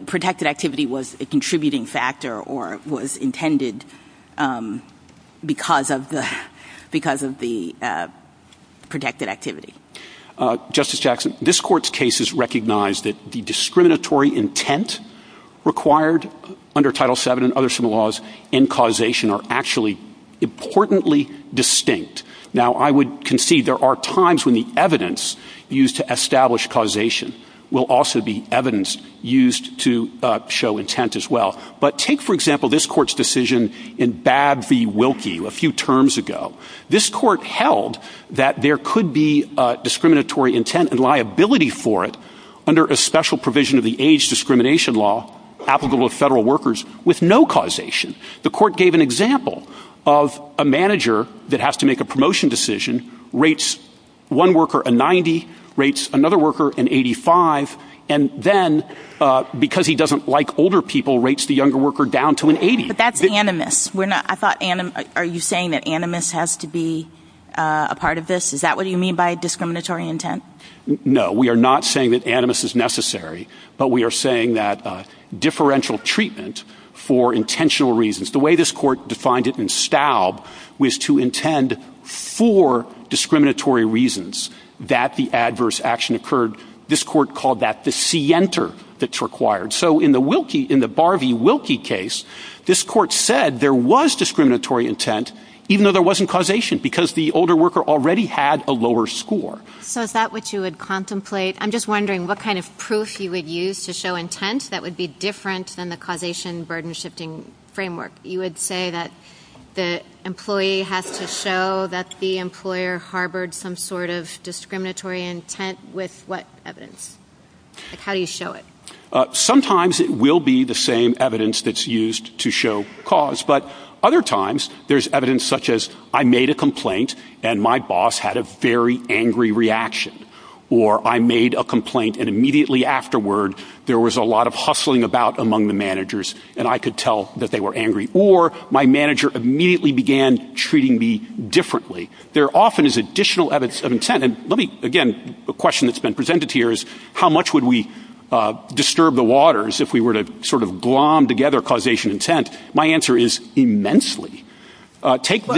protected activity was a contributing factor or was intended because of the protected activity? Justice Jackson, this Court's case has recognized that the discriminatory intent required under Title VII and others from the laws in causation are actually importantly distinct. Now, I would concede there are times when the evidence used to establish causation will also be evidence used to show intent as well. But take, for example, this Court's decision in Babb v. Wilkie a few terms ago. This Court held that there could be discriminatory intent and liability for it under a special provision of the age discrimination law applicable to federal workers with no causation. The Court gave an example of a manager that has to make a promotion decision, rates one worker a 90, rates another worker an 85, and then, because he doesn't like older people, rates the younger worker down to an 80. But that's animus. Are you saying that animus has to be a part of this? Is that what you mean by discriminatory intent? No. We are not saying that animus is necessary, but we are saying that differential treatment for intentional reasons. The way this Court defined it in Staub was to intend for discriminatory reasons that the adverse action occurred. This Court called that the scienter that's required. So in the Wilkie, in the Babb v. Wilkie case, this Court said there was discriminatory intent, even though there wasn't causation because the older worker already had a lower score. So is that what you would contemplate? I'm just wondering what kind of proof you would use to show intent that would be different than the causation burden shifting framework. You would say that the employee has to show that the employer harbored some sort of discriminatory intent with what evidence? How do you show it? Sometimes it will be the same evidence that's used to show cause, but other times there's evidence such as I made a complaint and my boss had a very angry reaction or I made a complaint and immediately afterward there was a lot of hustling about among the managers and I could tell that they were angry or my manager immediately began treating me differently. There often is additional evidence of intent. And let me again, a question that's been presented here is how much would we disturb the waters if we were to sort of glom together causation intent? My answer is immensely. I don't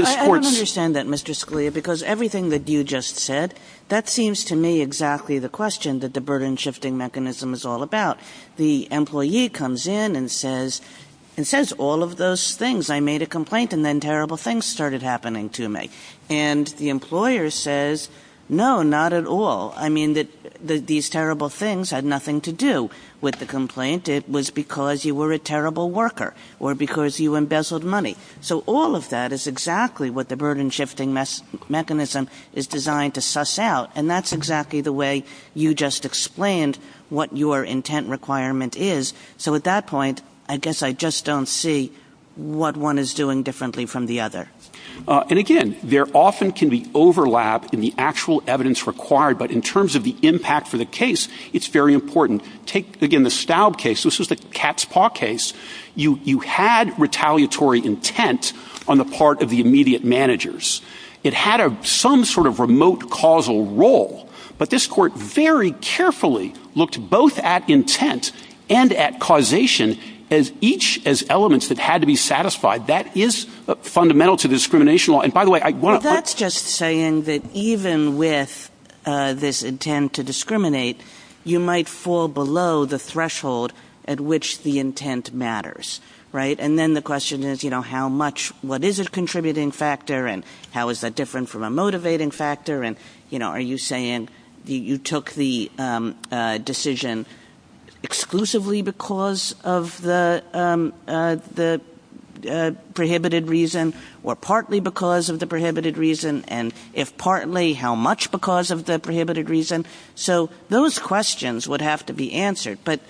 understand that, Mr. Scalia, because everything that you just said, that seems to me exactly the question that the burden shifting mechanism is all about. The employee comes in and says, it says all of those things. I made a complaint and then terrible things started happening to me. And the employer says, no, not at all. I mean that these terrible things had nothing to do with the complaint. It was because you were a terrible worker or because you embezzled money. So all of that is exactly what the burden shifting mechanism is designed to suss out, and that's exactly the way you just explained what your intent requirement is. So at that point, I guess I just don't see what one is doing differently from the other. And again, there often can be overlap in the actual evidence required, but in terms of the impact for the case, it's very important. Take, again, the Staub case. This was the cat's paw case. You had retaliatory intent on the part of the immediate managers. It had some sort of remote causal role, but this court very carefully looked both at intent and at causation, each as elements that had to be satisfied. That is fundamental to the discrimination law. That's just saying that even with this intent to discriminate, you might fall below the threshold at which the intent matters, right? And then the question is how much, what is a contributing factor and how is that different from a motivating factor? Are you saying you took the decision exclusively because of the prohibited reason or partly because of the prohibited reason and if partly, how much because of the prohibited reason? So those questions would have to be answered, but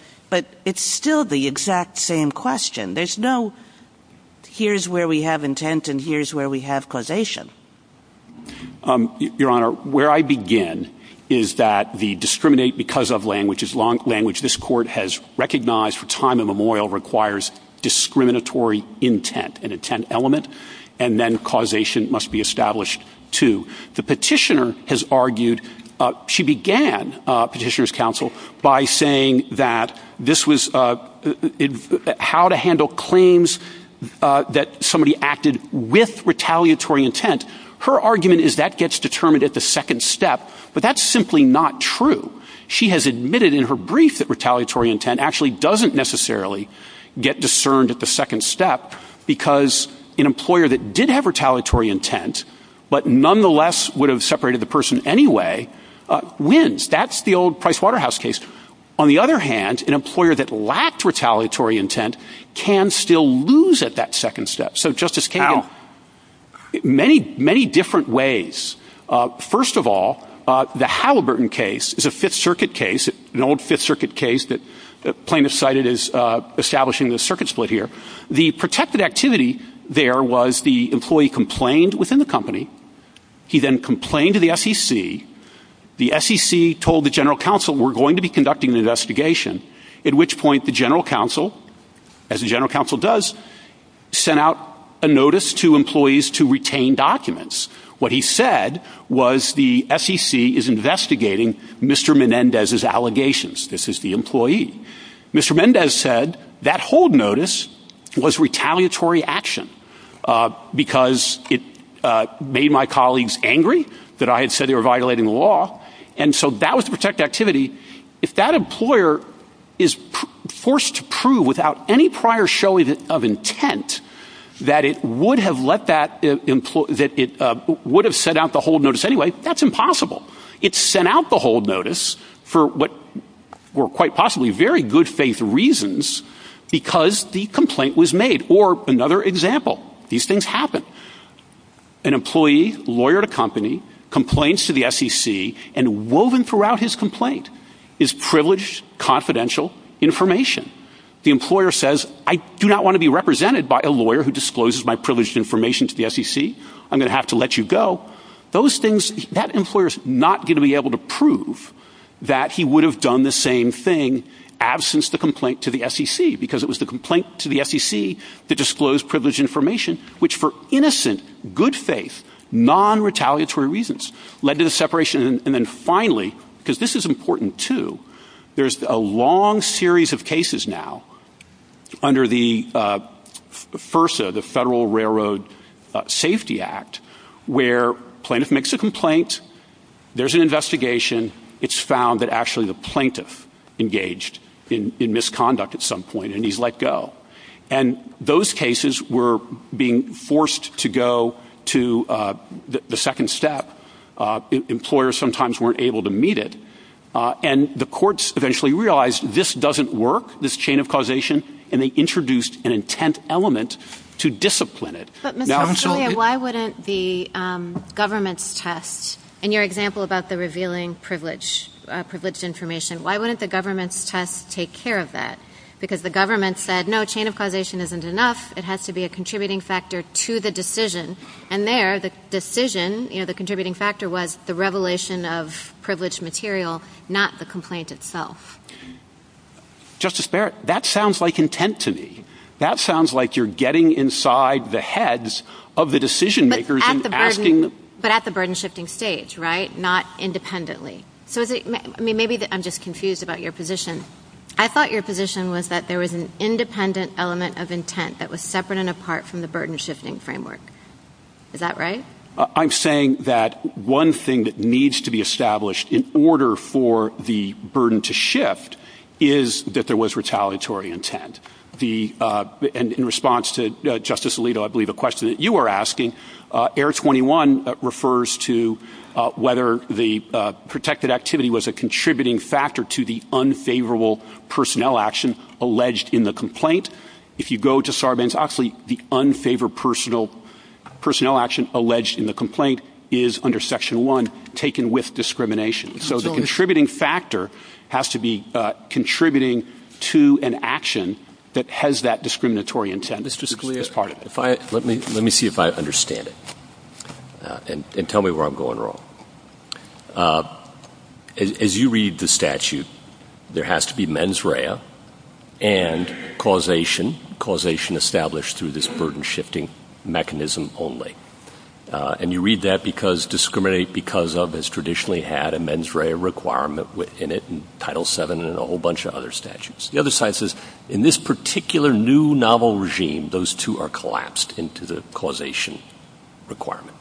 it's still the exact same question. There's no here's where we have intent and here's where we have causation. Your Honor, where I begin is that the discriminate because of language, which is language this court has recognized for time immemorial requires discriminatory intent, an intent element, and then causation must be established too. The petitioner has argued, she began petitioner's counsel by saying that this was how to handle claims that somebody acted with retaliatory intent. Her argument is that gets determined at the second step, but that's simply not true. She has admitted in her brief that retaliatory intent actually doesn't necessarily get discerned at the second step because an employer that did have retaliatory intent, but nonetheless would have separated the person anyway, wins. That's the old Price Waterhouse case. On the other hand, an employer that lacked retaliatory intent can still lose at that second step. So Justice Campbell, many, many different ways. First of all, the Halliburton case is a Fifth Circuit case, an old Fifth Circuit case that plaintiff cited as establishing the circuit split here. The protected activity there was the employee complained within the company. He then complained to the SEC. The SEC told the general counsel we're going to be conducting the investigation, at which point the general counsel, as the general counsel does, sent out a notice to employees to retain documents. What he said was the SEC is investigating Mr. Menendez's allegations. This is the employee. Mr. Mendez said that hold notice was retaliatory action because it made my colleagues angry that I had said they were violating the law. And so that was the protected activity. If that employer is forced to prove without any prior showing of intent that it would have set out the hold notice anyway, that's impossible. It sent out the hold notice for what were quite possibly very good faith reasons because the complaint was made. Or another example. These things happen. An employee, lawyer at a company, complains to the SEC and woven throughout his complaint is privileged, confidential information. The employer says I do not want to be represented by a lawyer who discloses my privileged information to the SEC. I'm going to have to let you go. Those things that employers not going to be able to prove that he would have done the same thing. Absence the complaint to the SEC because it was the complaint to the SEC that disclosed privileged information, which for innocent good faith, non retaliatory reasons led to the separation. And then finally, because this is important, too. There's a long series of cases now under the first of the Federal Railroad Safety Act where plaintiff makes a complaint. There's an investigation. It's found that actually the plaintiff engaged in misconduct at some point and he's let go. And those cases were being forced to go to the second step. Employers sometimes weren't able to meet it. And the courts eventually realized this doesn't work. This chain of causation. And they introduced an intent element to discipline it. But why wouldn't the government test in your example about the revealing privilege, privileged information? Why wouldn't the government has to take care of that? Because the government said, no, a chain of causation isn't enough. It has to be a contributing factor to the decision. And there the decision, the contributing factor was the revelation of privileged material, not the complaint itself. Justice Barrett, that sounds like intent to me. That sounds like you're getting inside the heads of the decision makers. But at the burden shifting stage. Right. Not independently. So maybe I'm just confused about your position. I thought your position was that there was an independent element of intent that was separate and apart from the burden shifting framework. Is that right? I'm saying that one thing that needs to be established in order for the burden to shift is that there was retaliatory intent. The and in response to Justice Alito, I believe a question that you are asking, Air 21 refers to whether the protected activity was a contributing factor to the unfavorable personnel action alleged in the complaint. If you go to Sarbanes-Oxley, the unfavored personal personnel action alleged in the complaint is under Section one taken with discrimination. So the contributing factor has to be contributing to an action that has that discriminatory intent. Mr. Scalia, if I let me let me see if I understand it and tell me where I'm going wrong. As you read the statute, there has to be mens rea and causation causation established through this burden shifting mechanism only. And you read that because discriminate because of this traditionally had a mens rea requirement in it. Title seven and a whole bunch of other statutes. The other side says in this particular new novel regime, those two are collapsed into the causation requirement.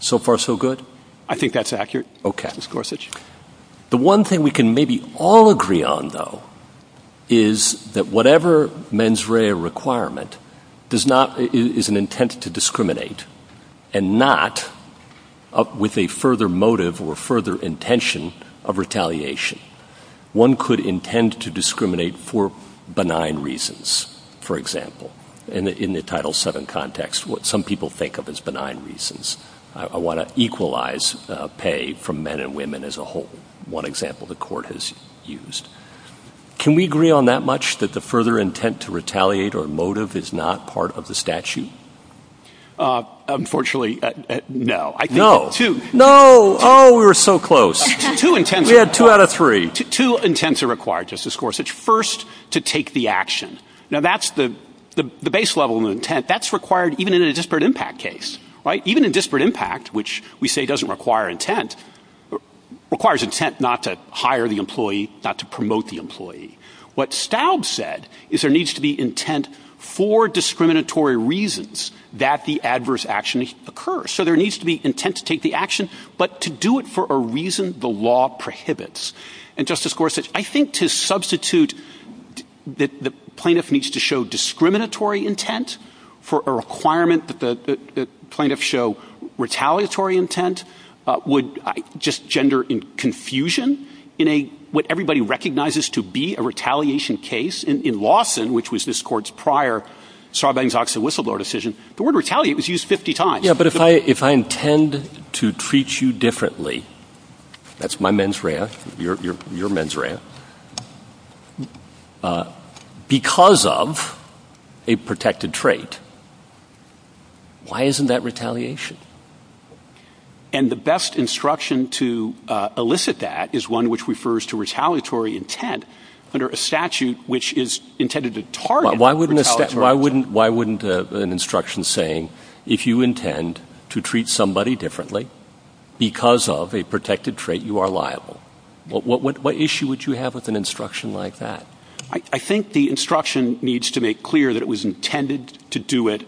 So far, so good. I think that's accurate. Oh, Captain Scorsese. The one thing we can maybe all agree on, though, is that whatever mens rea requirement is an intent to discriminate and not with a further motive or further intention of retaliation. One could intend to discriminate for benign reasons, for example, and in the title seven context, what some people think of as benign reasons. I want to equalize pay for men and women as a whole. One example, the court has used. Can we agree on that much that the further intent to retaliate or motive is not part of the statute? Unfortunately, no, no, no. Oh, we were so close to intent. We had two out of three to intend to require Justice Scorsese first to take the action. Now that's the base level of intent that's required even in a disparate impact case. Right. Even a disparate impact, which we say doesn't require intent, requires intent not to hire the employee, not to promote the employee. What Staub said is there needs to be intent for discriminatory reasons that the adverse action occurs. So there needs to be intent to take the action, but to do it for a reason the law prohibits. And Justice Scorsese, I think to substitute that the plaintiff needs to show discriminatory intent for a requirement that the plaintiff show retaliatory intent would just gender in confusion in a what everybody recognizes to be a retaliation case. In Lawson, which was this court's prior Sarbanes-Oxley whistleblower decision, the word retaliate was used 50 times. Yeah, but if I if I intend to treat you differently, that's my mens rea, your mens rea. Because of a protected trait. Why isn't that retaliation? And the best instruction to elicit that is one which refers to retaliatory intent under a statute which is intended to target. Why wouldn't why wouldn't why wouldn't an instruction saying if you intend to treat somebody differently because of a protected trait, you are liable? But what issue would you have with an instruction like that? I think the instruction needs to make clear that it was intended to do it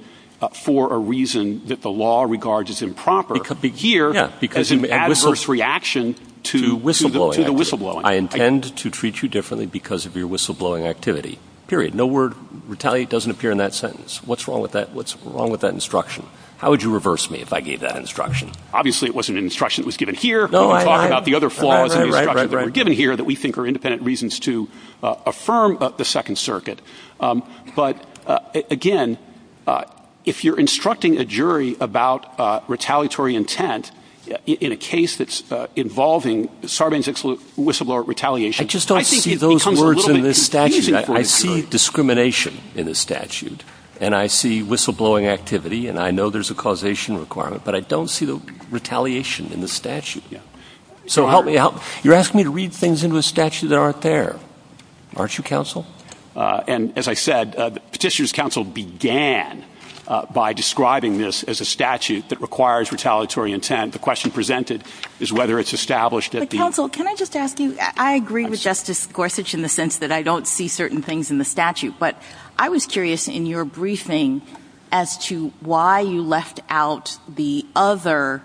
for a reason that the law regards as improper. Because of an adverse reaction to whistleblowing. I intend to treat you differently because of your whistleblowing activity. Period. No word retaliate doesn't appear in that sentence. What's wrong with that? What's wrong with that instruction? How would you reverse me if I gave that instruction? Obviously, it wasn't an instruction that was given here. No, I thought about the other flaws that were given here that we think are independent reasons to affirm the Second Circuit. But, again, if you're instructing a jury about retaliatory intent in a case that's involving Sarbanes-Excellent whistleblower retaliation. I just don't see those words in this statute. I see discrimination in the statute. And I see whistleblowing activity. And I know there's a causation requirement. But I don't see the retaliation in the statute. So help me out. You're asking me to read things into the statute that aren't there. Aren't you, counsel? And, as I said, Petitioner's counsel began by describing this as a statute that requires retaliatory intent. The question presented is whether it's established that the Counsel, can I just ask you? I agree with Justice Gorsuch in the sense that I don't see certain things in the statute. But I was curious in your briefing as to why you left out the other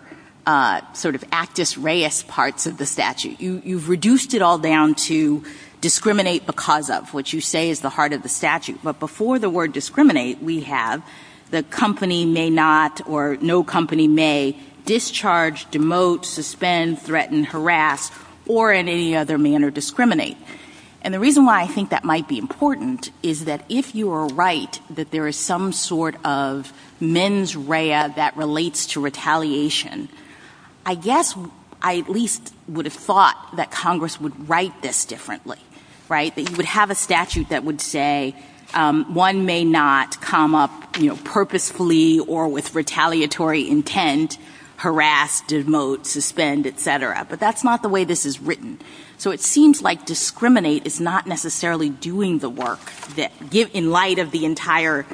sort of actus reus parts of the statute. You've reduced it all down to discriminate because of what you say is the heart of the statute. But before the word discriminate, we have the company may not or no company may discharge, demote, suspend, threaten, harass, or in any other manner discriminate. And the reason why I think that might be important is that if you are right that there is some sort of mens rea that relates to retaliation, I guess I at least would have thought that Congress would write this differently, right? That you would have a statute that would say one may not come up, you know, purposefully or with retaliatory intent, harass, demote, suspend, et cetera. But that's not the way this is written. So it seems like discriminate is not necessarily doing the work that, in light of the entire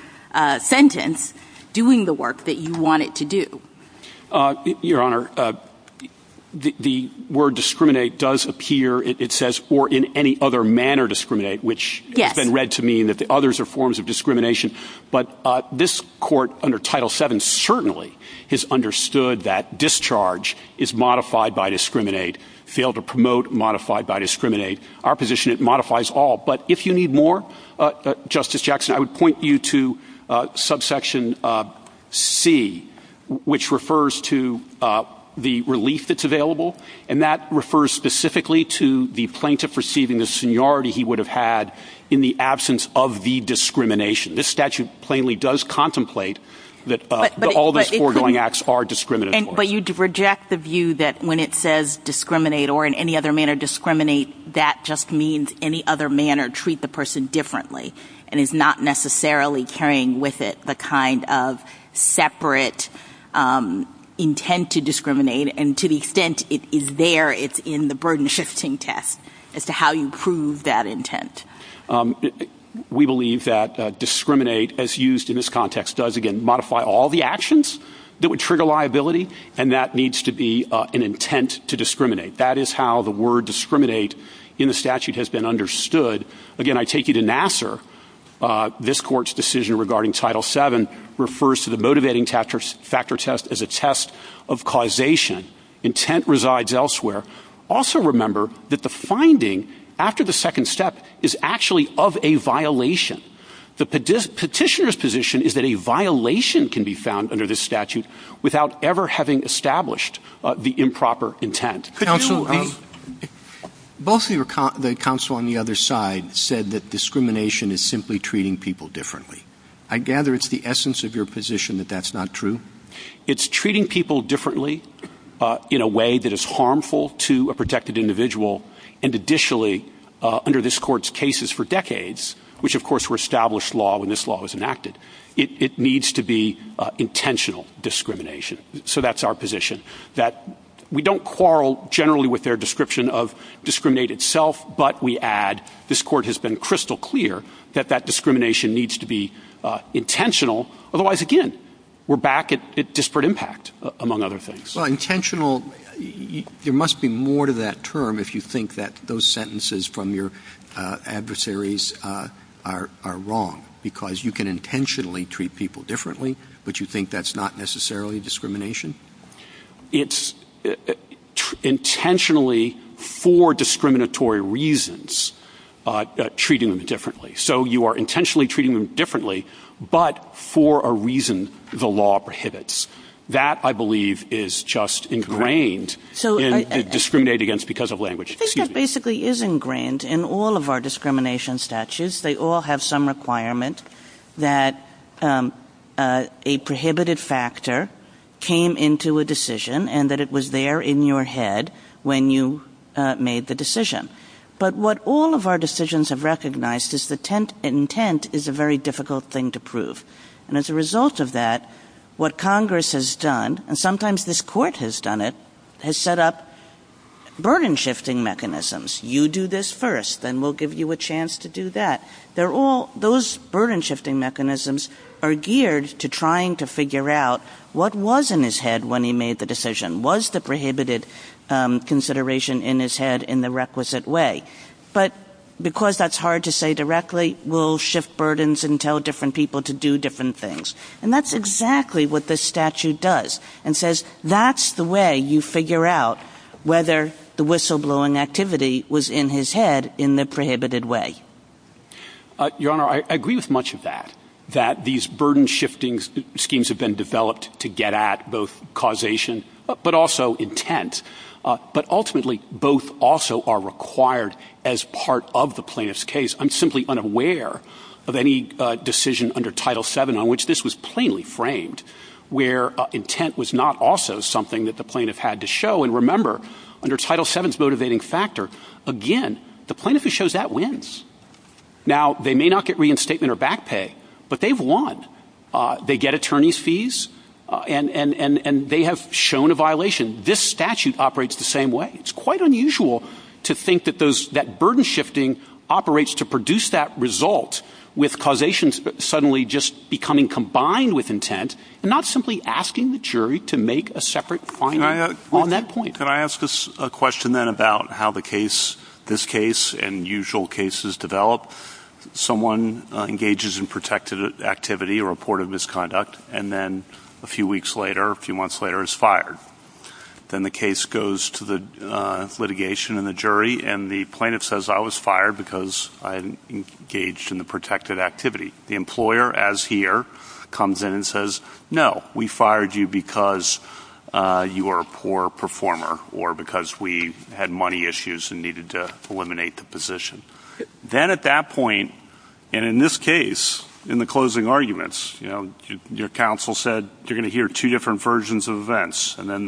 sentence, doing the work that you want it to do. Your Honor, the word discriminate does appear, it says, or in any other manner discriminate, which has been read to me that the others are forms of discrimination. But this court under Title VII certainly has understood that discharge is modified by discriminate, failed to promote, modified by discriminate. Our position, it modifies all. But if you need more, Justice Jackson, I would point you to subsection C, which refers to the relief that's available. And that refers specifically to the plaintiff receiving the seniority he would have had in the absence of the discrimination. This statute plainly does contemplate that all those foregoing acts are discriminatory. But you reject the view that when it says discriminate or in any other manner discriminate, that just means any other manner treat the person differently. And it's not necessarily carrying with it the kind of separate intent to discriminate. And to the extent it is there, it's in the burden shifting test as to how you prove that intent. We believe that discriminate, as used in this context, does again modify all the actions that would trigger liability. And that needs to be an intent to discriminate. That is how the word discriminate in the statute has been understood. Again, I take you to Nassar. This court's decision regarding Title VII refers to the motivating factor test as a test of causation. Intent resides elsewhere. Also remember that the finding after the second step is actually of a violation. The petitioner's position is that a violation can be found under this statute without ever having established the improper intent. Could you repeat? Both the counsel on the other side said that discrimination is simply treating people differently. I gather it's the essence of your position that that's not true? It's treating people differently in a way that is harmful to a protected individual. And additionally, under this court's cases for decades, which of course were established law when this law was enacted, it needs to be intentional discrimination. So that's our position that we don't quarrel generally with their description of discriminate itself. But we add this court has been crystal clear that that discrimination needs to be intentional. Otherwise, again, we're back at disparate impact, among other things. Well, intentional, there must be more to that term if you think that those sentences from your adversaries are wrong. Because you can intentionally treat people differently, but you think that's not necessarily discrimination. It's intentionally for discriminatory reasons, treating them differently. So you are intentionally treating them differently, but for a reason the law prohibits. That, I believe, is just ingrained in discriminate against because of language. I think that basically is ingrained in all of our discrimination statutes. They all have some requirement that a prohibited factor came into a decision and that it was there in your head when you made the decision. But what all of our decisions have recognized is that intent is a very difficult thing to prove. And as a result of that, what Congress has done, and sometimes this court has done it, has set up burden shifting mechanisms. You do this first, then we'll give you a chance to do that. Those burden shifting mechanisms are geared to trying to figure out what was in his head when he made the decision. Was the prohibited consideration in his head in the requisite way? But because that's hard to say directly, we'll shift burdens and tell different people to do different things. And that's exactly what this statute does and says that's the way you figure out whether the whistleblowing activity was in his head in the prohibited way. Your Honor, I agree with much of that, that these burden shifting schemes have been developed to get at both causation but also intent. But ultimately, both also are required as part of the plaintiff's case. I'm simply unaware of any decision under Title VII on which this was plainly framed, where intent was not also something that the plaintiff had to show. And remember, under Title VII's motivating factor, again, the plaintiff who shows that wins. Now, they may not get reinstatement or back pay, but they've won. They get attorney's fees and they have shown a violation. This statute operates the same way. It's quite unusual to think that burden shifting operates to produce that result with causation suddenly just becoming combined with intent and not simply asking the jury to make a separate claim on that point. Can I ask a question then about how this case and usual cases develop? Someone engages in protected activity or reported misconduct, and then a few weeks later, a few months later, is fired. Then the case goes to the litigation and the jury, and the plaintiff says, I was fired because I engaged in the protected activity. The employer, as here, comes in and says, no, we fired you because you were a poor performer or because we had money issues and needed to eliminate the position. Then at that point, and in this case, in the closing arguments, your counsel said, you're going to hear two different versions of events. And then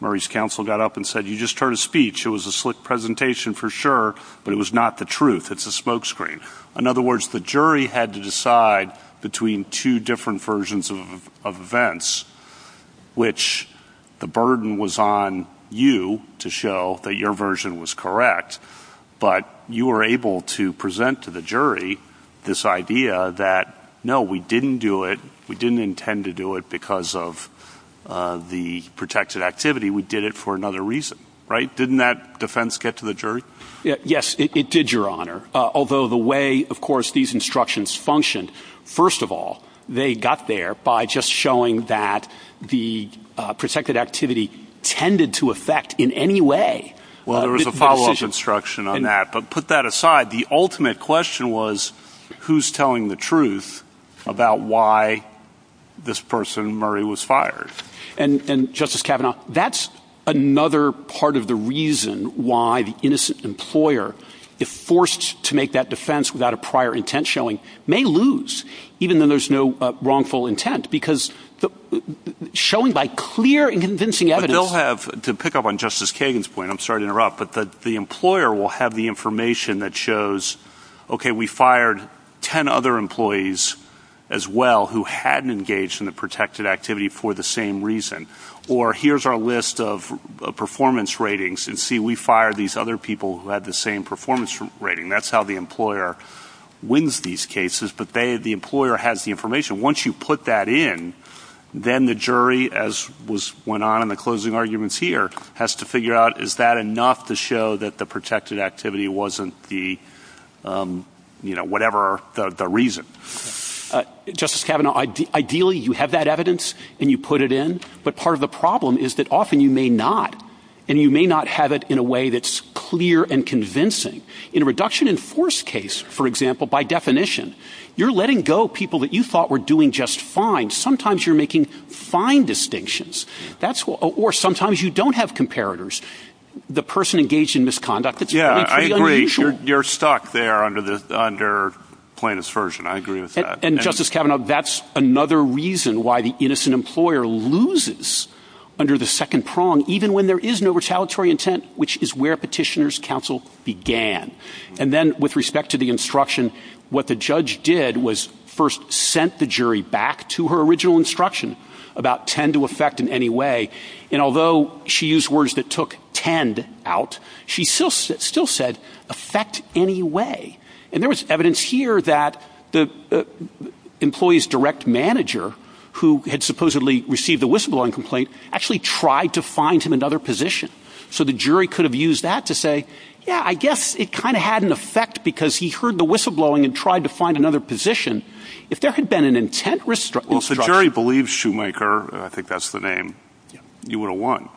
Murray's counsel got up and said, you just heard a speech. It was a slick presentation for sure, but it was not the truth. It's a smoke screen. In other words, the jury had to decide between two different versions of events, which the burden was on you to show that your version was correct. But you were able to present to the jury this idea that, no, we didn't do it. We didn't intend to do it because of the protected activity. We did it for another reason. Right. Didn't that defense get to the jury? Yes, it did, Your Honor. Although the way, of course, these instructions functioned, first of all, they got there by just showing that the protected activity tended to affect in any way. Well, there was a follow-up instruction on that. But put that aside, the ultimate question was, who's telling the truth about why this person, Murray, was fired? And, Justice Kavanaugh, that's another part of the reason why the innocent employer, if forced to make that defense without a prior intent showing, may lose, even though there's no wrongful intent, because showing by clear and convincing evidence. To pick up on Justice Kagan's point, I'm sorry to interrupt, but the employer will have the information that shows, okay, we fired ten other employees as well who hadn't engaged in the protected activity for the same reason. Or, here's our list of performance ratings, and see, we fired these other people who had the same performance rating. That's how the employer wins these cases. But the employer has the information. Once you put that in, then the jury, as went on in the closing arguments here, has to figure out, is that enough to show that the protected activity wasn't the, you know, whatever the reason? Justice Kavanaugh, ideally, you have that evidence, and you put it in. But part of the problem is that often you may not, and you may not have it in a way that's clear and convincing. In a reduction-in-force case, for example, by definition, you're letting go people that you thought were doing just fine. Sometimes you're making fine distinctions. Or sometimes you don't have comparators. The person engaged in misconduct, it's pretty unusual. Yeah, I agree. You're stuck there under plaintiff's version. I agree with that. And, Justice Kavanaugh, that's another reason why the innocent employer loses under the second prong, even when there is no retaliatory intent, which is where petitioner's counsel began. And then with respect to the instruction, what the judge did was first sent the jury back to her original instruction about tend to effect in any way. And although she used words that took tend out, she still said effect any way. And there was evidence here that the employee's direct manager, who had supposedly received the whistleblowing complaint, actually tried to find him another position. So the jury could have used that to say, yeah, I guess it kind of had an effect because he heard the whistleblowing and tried to find another position. If there had been an intent instruction. Well, if the jury believes Shoemaker, I think that's the name, you would have won.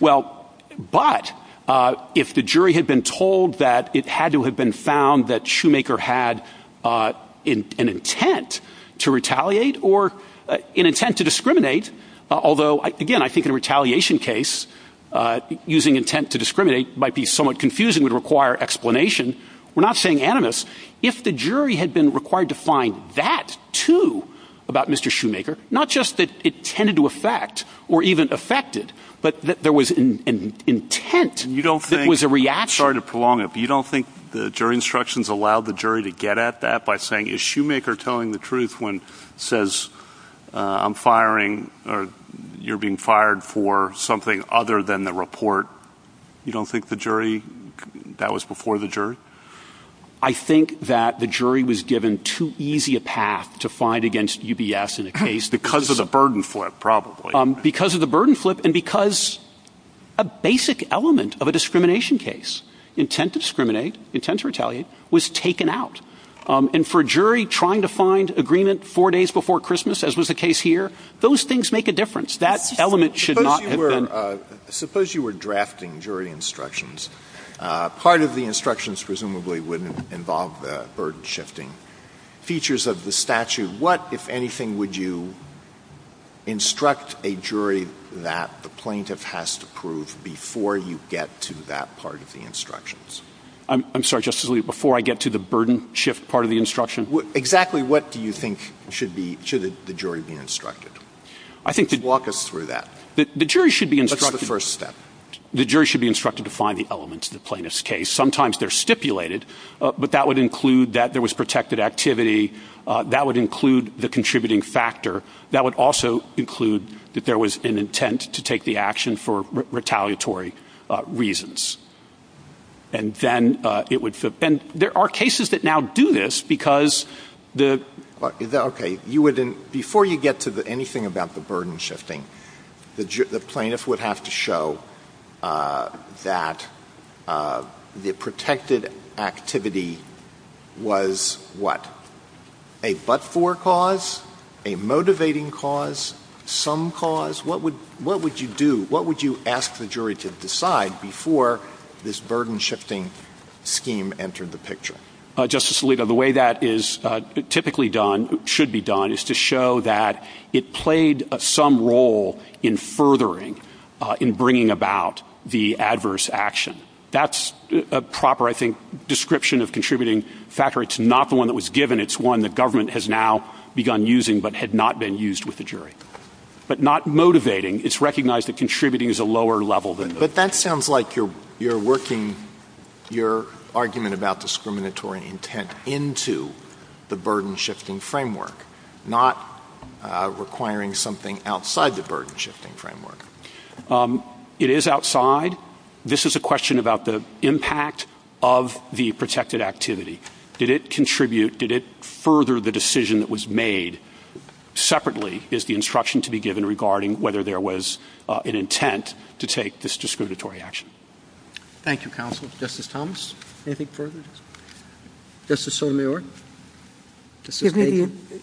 Well, but if the jury had been told that it had to have been found that Shoemaker had an intent to retaliate or an intent to discriminate. Although, again, I think in a retaliation case, using intent to discriminate might be somewhat confusing, would require explanation. We're not saying animus. If the jury had been required to find that, too, about Mr. Shoemaker, not just that it tended to affect or even affected, but there was an intent. You don't think it was a reaction to prolong it. You don't think the jury instructions allowed the jury to get at that by saying issue maker telling the truth when says I'm firing or you're being fired for something other than the report. You don't think the jury that was before the jury. I think that the jury was given too easy a path to fight against UBS in the case because of the burden flip, probably because of the burden flip and because a basic element of a discrimination case. Intent to discriminate. Intent to retaliate was taken out. And for a jury trying to find agreement four days before Christmas, as was the case here, those things make a difference. Suppose you were drafting jury instructions. Part of the instructions presumably would involve the burden shifting features of the statute. What, if anything, would you instruct a jury that the plaintiff has to prove before you get to that part of the instructions? I'm sorry, Justice Alito, before I get to the burden shift part of the instruction, exactly what do you think should the jury be instructed? Walk us through that. The jury should be instructed. That's the first step. The jury should be instructed to find the elements of the plaintiff's case. Sometimes they're stipulated, but that would include that there was protected activity. That would include the contributing factor. That would also include that there was an intent to take the action for retaliatory reasons. And then there are cases that now do this because the – okay, before you get to anything about the burden shifting, the plaintiff would have to show that the protected activity was what? A but-for cause? A motivating cause? Some cause? What would you do? What would you ask the jury to decide before this burden shifting scheme entered the picture? Justice Alito, the way that is typically done, should be done, is to show that it played some role in furthering, in bringing about the adverse action. That's a proper, I think, description of contributing factor. It's not the one that was given. It's one the government has now begun using but had not been used with the jury. But not motivating. It's recognized that contributing is a lower level. But that sounds like you're working your argument about discriminatory intent into the burden shifting framework, not requiring something outside the burden shifting framework. It is outside. This is a question about the impact of the protected activity. Did it contribute? Did it further the decision that was made? Separately is the instruction to be given regarding whether there was an intent to take this discriminatory action. Thank you, counsel. Justice Thomas, anything further? Justice Sotomayor?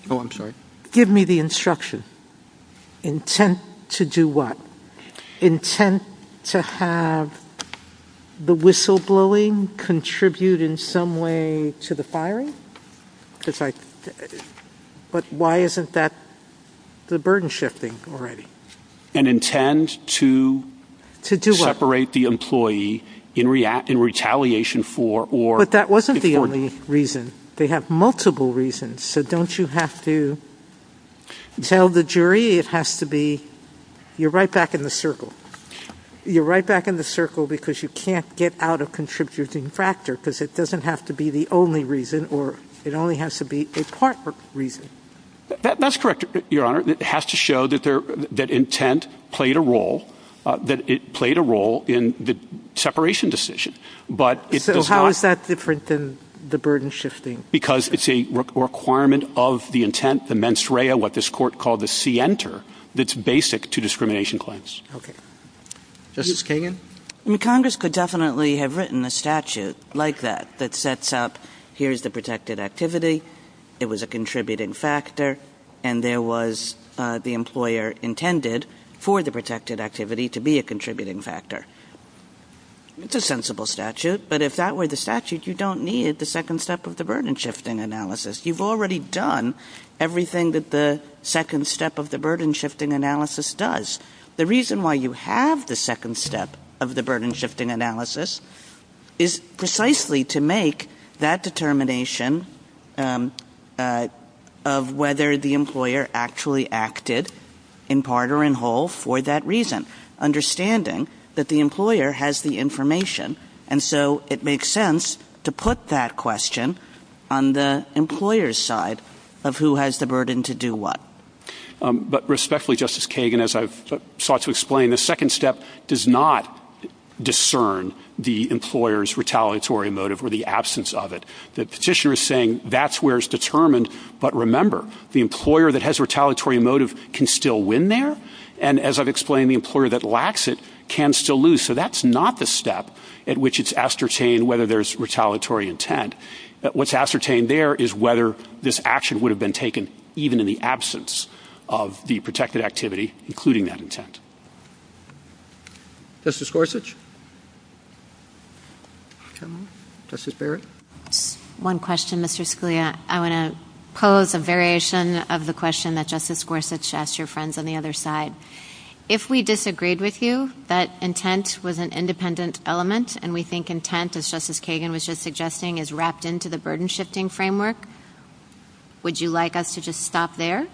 Oh, I'm sorry. Give me the instruction. Intent to do what? Intent to have the whistleblowing contribute in some way to the firing? But why isn't that the burden shifting already? An intent to separate the employee in retaliation for or- But that wasn't the only reason. They have multiple reasons. So don't you have to tell the jury it has to be-you're right back in the circle. You're right back in the circle because you can't get out of contributing factor because it doesn't have to be the only reason or it only has to be a part reason. That's correct, Your Honor. It has to show that intent played a role, that it played a role in the separation decision. So how is that different than the burden shifting? Because it's a requirement of the intent, the mens rea, what this court called the scienter, that's basic to discrimination claims. Okay. Justice Kagan? Congress could definitely have written a statute like that that sets up here's the protected activity, it was a contributing factor, and there was the employer intended for the protected activity to be a contributing factor. It's a sensible statute, but if that were the statute, you don't need the second step of the burden shifting analysis. You've already done everything that the second step of the burden shifting analysis does. The reason why you have the second step of the burden shifting analysis is precisely to make that determination of whether the employer actually acted in part or in whole for that reason, understanding that the employer has the information, and so it makes sense to put that question on the employer's side of who has the burden to do what. But respectfully, Justice Kagan, as I've sought to explain, the second step does not discern the employer's retaliatory motive or the absence of it. The petitioner is saying that's where it's determined, but remember, the employer that has retaliatory motive can still win there, and as I've explained, the employer that lacks it can still lose. So that's not the step at which it's ascertained whether there's retaliatory intent. What's ascertained there is whether this action would have been taken even in the absence of the protected activity, including that intent. Justice Gorsuch? Justice Barrett? One question, Mr. Scalia. I want to pose a variation of the question that Justice Gorsuch asked your friends on the other side. If we disagreed with you that intent was an independent element, and we think intent, as Justice Kagan was just suggesting, is wrapped into the burden-shifting framework, would you like us to just stop there,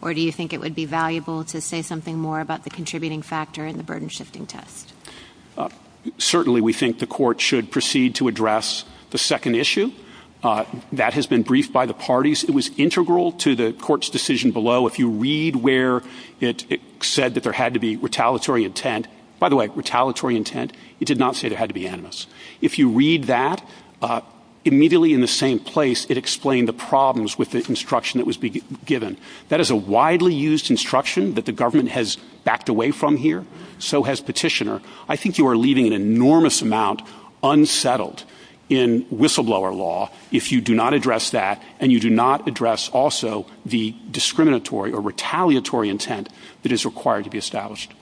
or do you think it would be valuable to say something more about the contributing factor in the burden-shifting test? Certainly we think the Court should proceed to address the second issue. That has been briefed by the parties. It was integral to the Court's decision below. If you read where it said that there had to be retaliatory intent, by the way, retaliatory intent, it did not say there had to be animus. If you read that, immediately in the same place it explained the problems with the instruction that was given. That is a widely used instruction that the government has backed away from here, so has Petitioner. I think you are leaving an enormous amount unsettled in whistleblower law if you do not address that and you do not address also the discriminatory or retaliatory intent that is required to be established.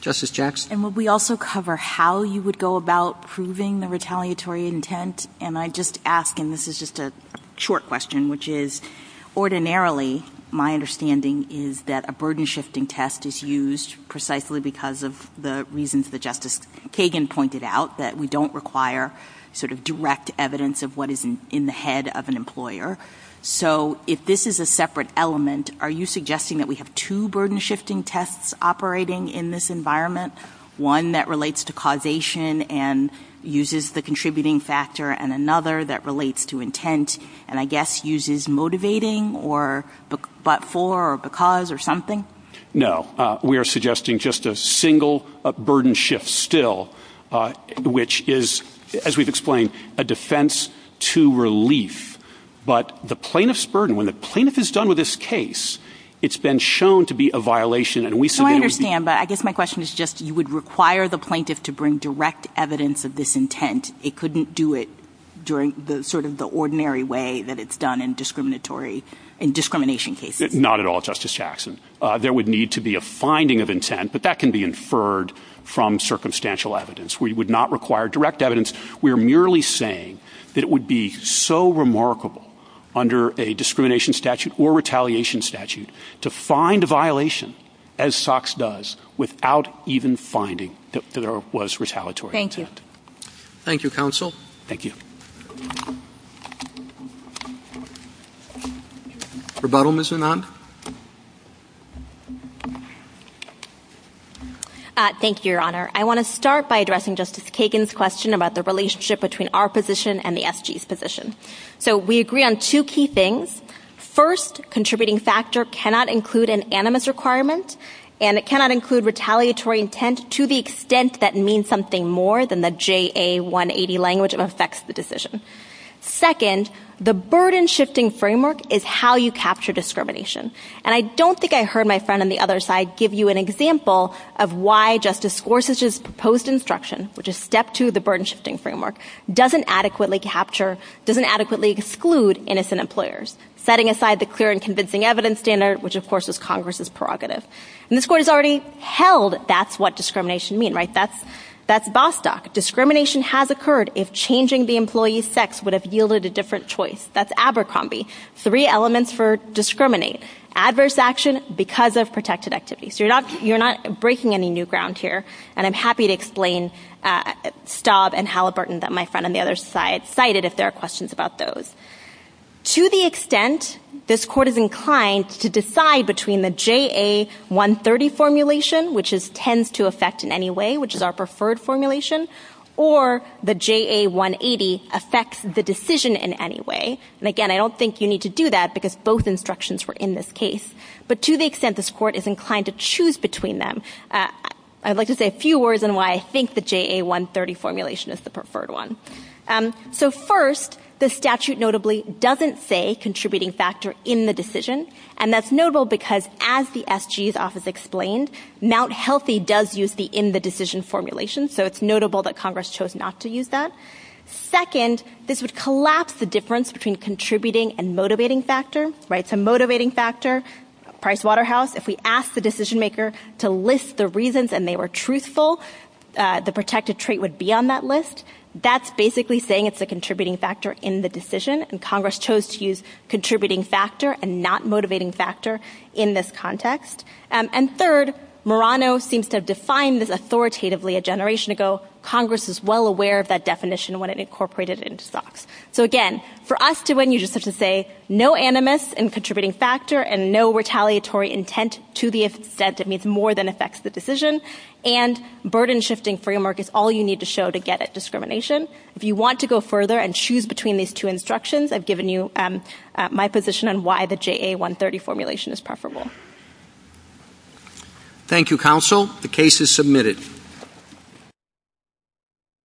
Justice Jackson? And would we also cover how you would go about proving the retaliatory intent? And I just ask, and this is just a short question, which is, ordinarily, my understanding is that a burden-shifting test is used precisely because of the reasons that Justice Kagan pointed out, that we do not require sort of direct evidence of what is in the head of an employer. So if this is a separate element, are you suggesting that we have two burden-shifting tests operating in this environment, one that relates to causation and uses the contributing factor, and another that relates to intent and I guess uses motivating or but for or because or something? No. We are suggesting just a single burden shift still, which is, as we have explained, a defense to relief, but the plaintiff's burden, when the plaintiff is done with this case, it's been shown to be a violation. So I understand, but I guess my question is just, you would require the plaintiff to bring direct evidence of this intent. It couldn't do it during sort of the ordinary way that it's done in discrimination cases. Not at all, Justice Jackson. There would need to be a finding of intent, but that can be inferred from circumstantial evidence. We would not require direct evidence. We are merely saying that it would be so remarkable under a discrimination statute or retaliation statute to find a violation, as SOX does, without even finding that there was retaliatory intent. Thank you. Thank you, Counsel. Thank you. Rebuttal, Ms. Anand? Thank you, Your Honor. I want to start by addressing Justice Kagan's question about the relationship between our position and the SG's position. So we agree on two key things. First, contributing factor cannot include an animus requirement, and it cannot include retaliatory intent to the extent that means something more than the JA-180 language that affects the decision. Second, the burden-shifting framework is how you capture discrimination. And I don't think I heard my friend on the other side give you an example of why Justice Gorsuch's proposed instruction, which is step two of the burden-shifting framework, doesn't adequately capture, doesn't adequately exclude innocent employers, setting aside the clear and convincing evidence standard, which of course is Congress's prerogative. And this Court has already held that that's what discrimination means, right? That's Bostock. Discrimination has occurred if changing the employee's sex would have yielded a different choice. That's Abercrombie. Three elements for discrimination. Adverse action because of protected activity. So you're not breaking any new ground here, and I'm happy to explain Staub and Halliburton that my friend on the other side cited if there are questions about those. To the extent this Court is inclined to decide between the JA-130 formulation, which tends to affect in any way, which is our preferred formulation, or the JA-180 affects the decision in any way, and again, I don't think you need to do that because both instructions were in this case, but to the extent this Court is inclined to choose between them, I'd like to say a few words on why I think the JA-130 formulation is the preferred one. So first, the statute notably doesn't say contributing factor in the decision, and that's notable because as the SG's office explained, Mount Healthy does use the in-the-decision formulation, so it's notable that Congress chose not to use that. Second, this would collapse the difference between contributing and motivating factor. So motivating factor, Pricewaterhouse, if we ask the decision-maker to list the reasons and they were truthful, the protected trait would be on that list. That's basically saying it's a contributing factor in the decision, and Congress chose to use contributing factor and not motivating factor in this context. And third, Murano seems to have defined this authoritatively a generation ago. So Congress is well aware of that definition when it incorporated it into SOPS. So again, for us to win, you just have to say no animus in contributing factor and no retaliatory intent to the extent it means more than affects the decision, and burden-shifting framework is all you need to show to get at discrimination. If you want to go further and choose between these two instructions, I've given you my position on why the JA-130 formulation is preferable. Thank you, Counsel. The case is submitted. Thank you.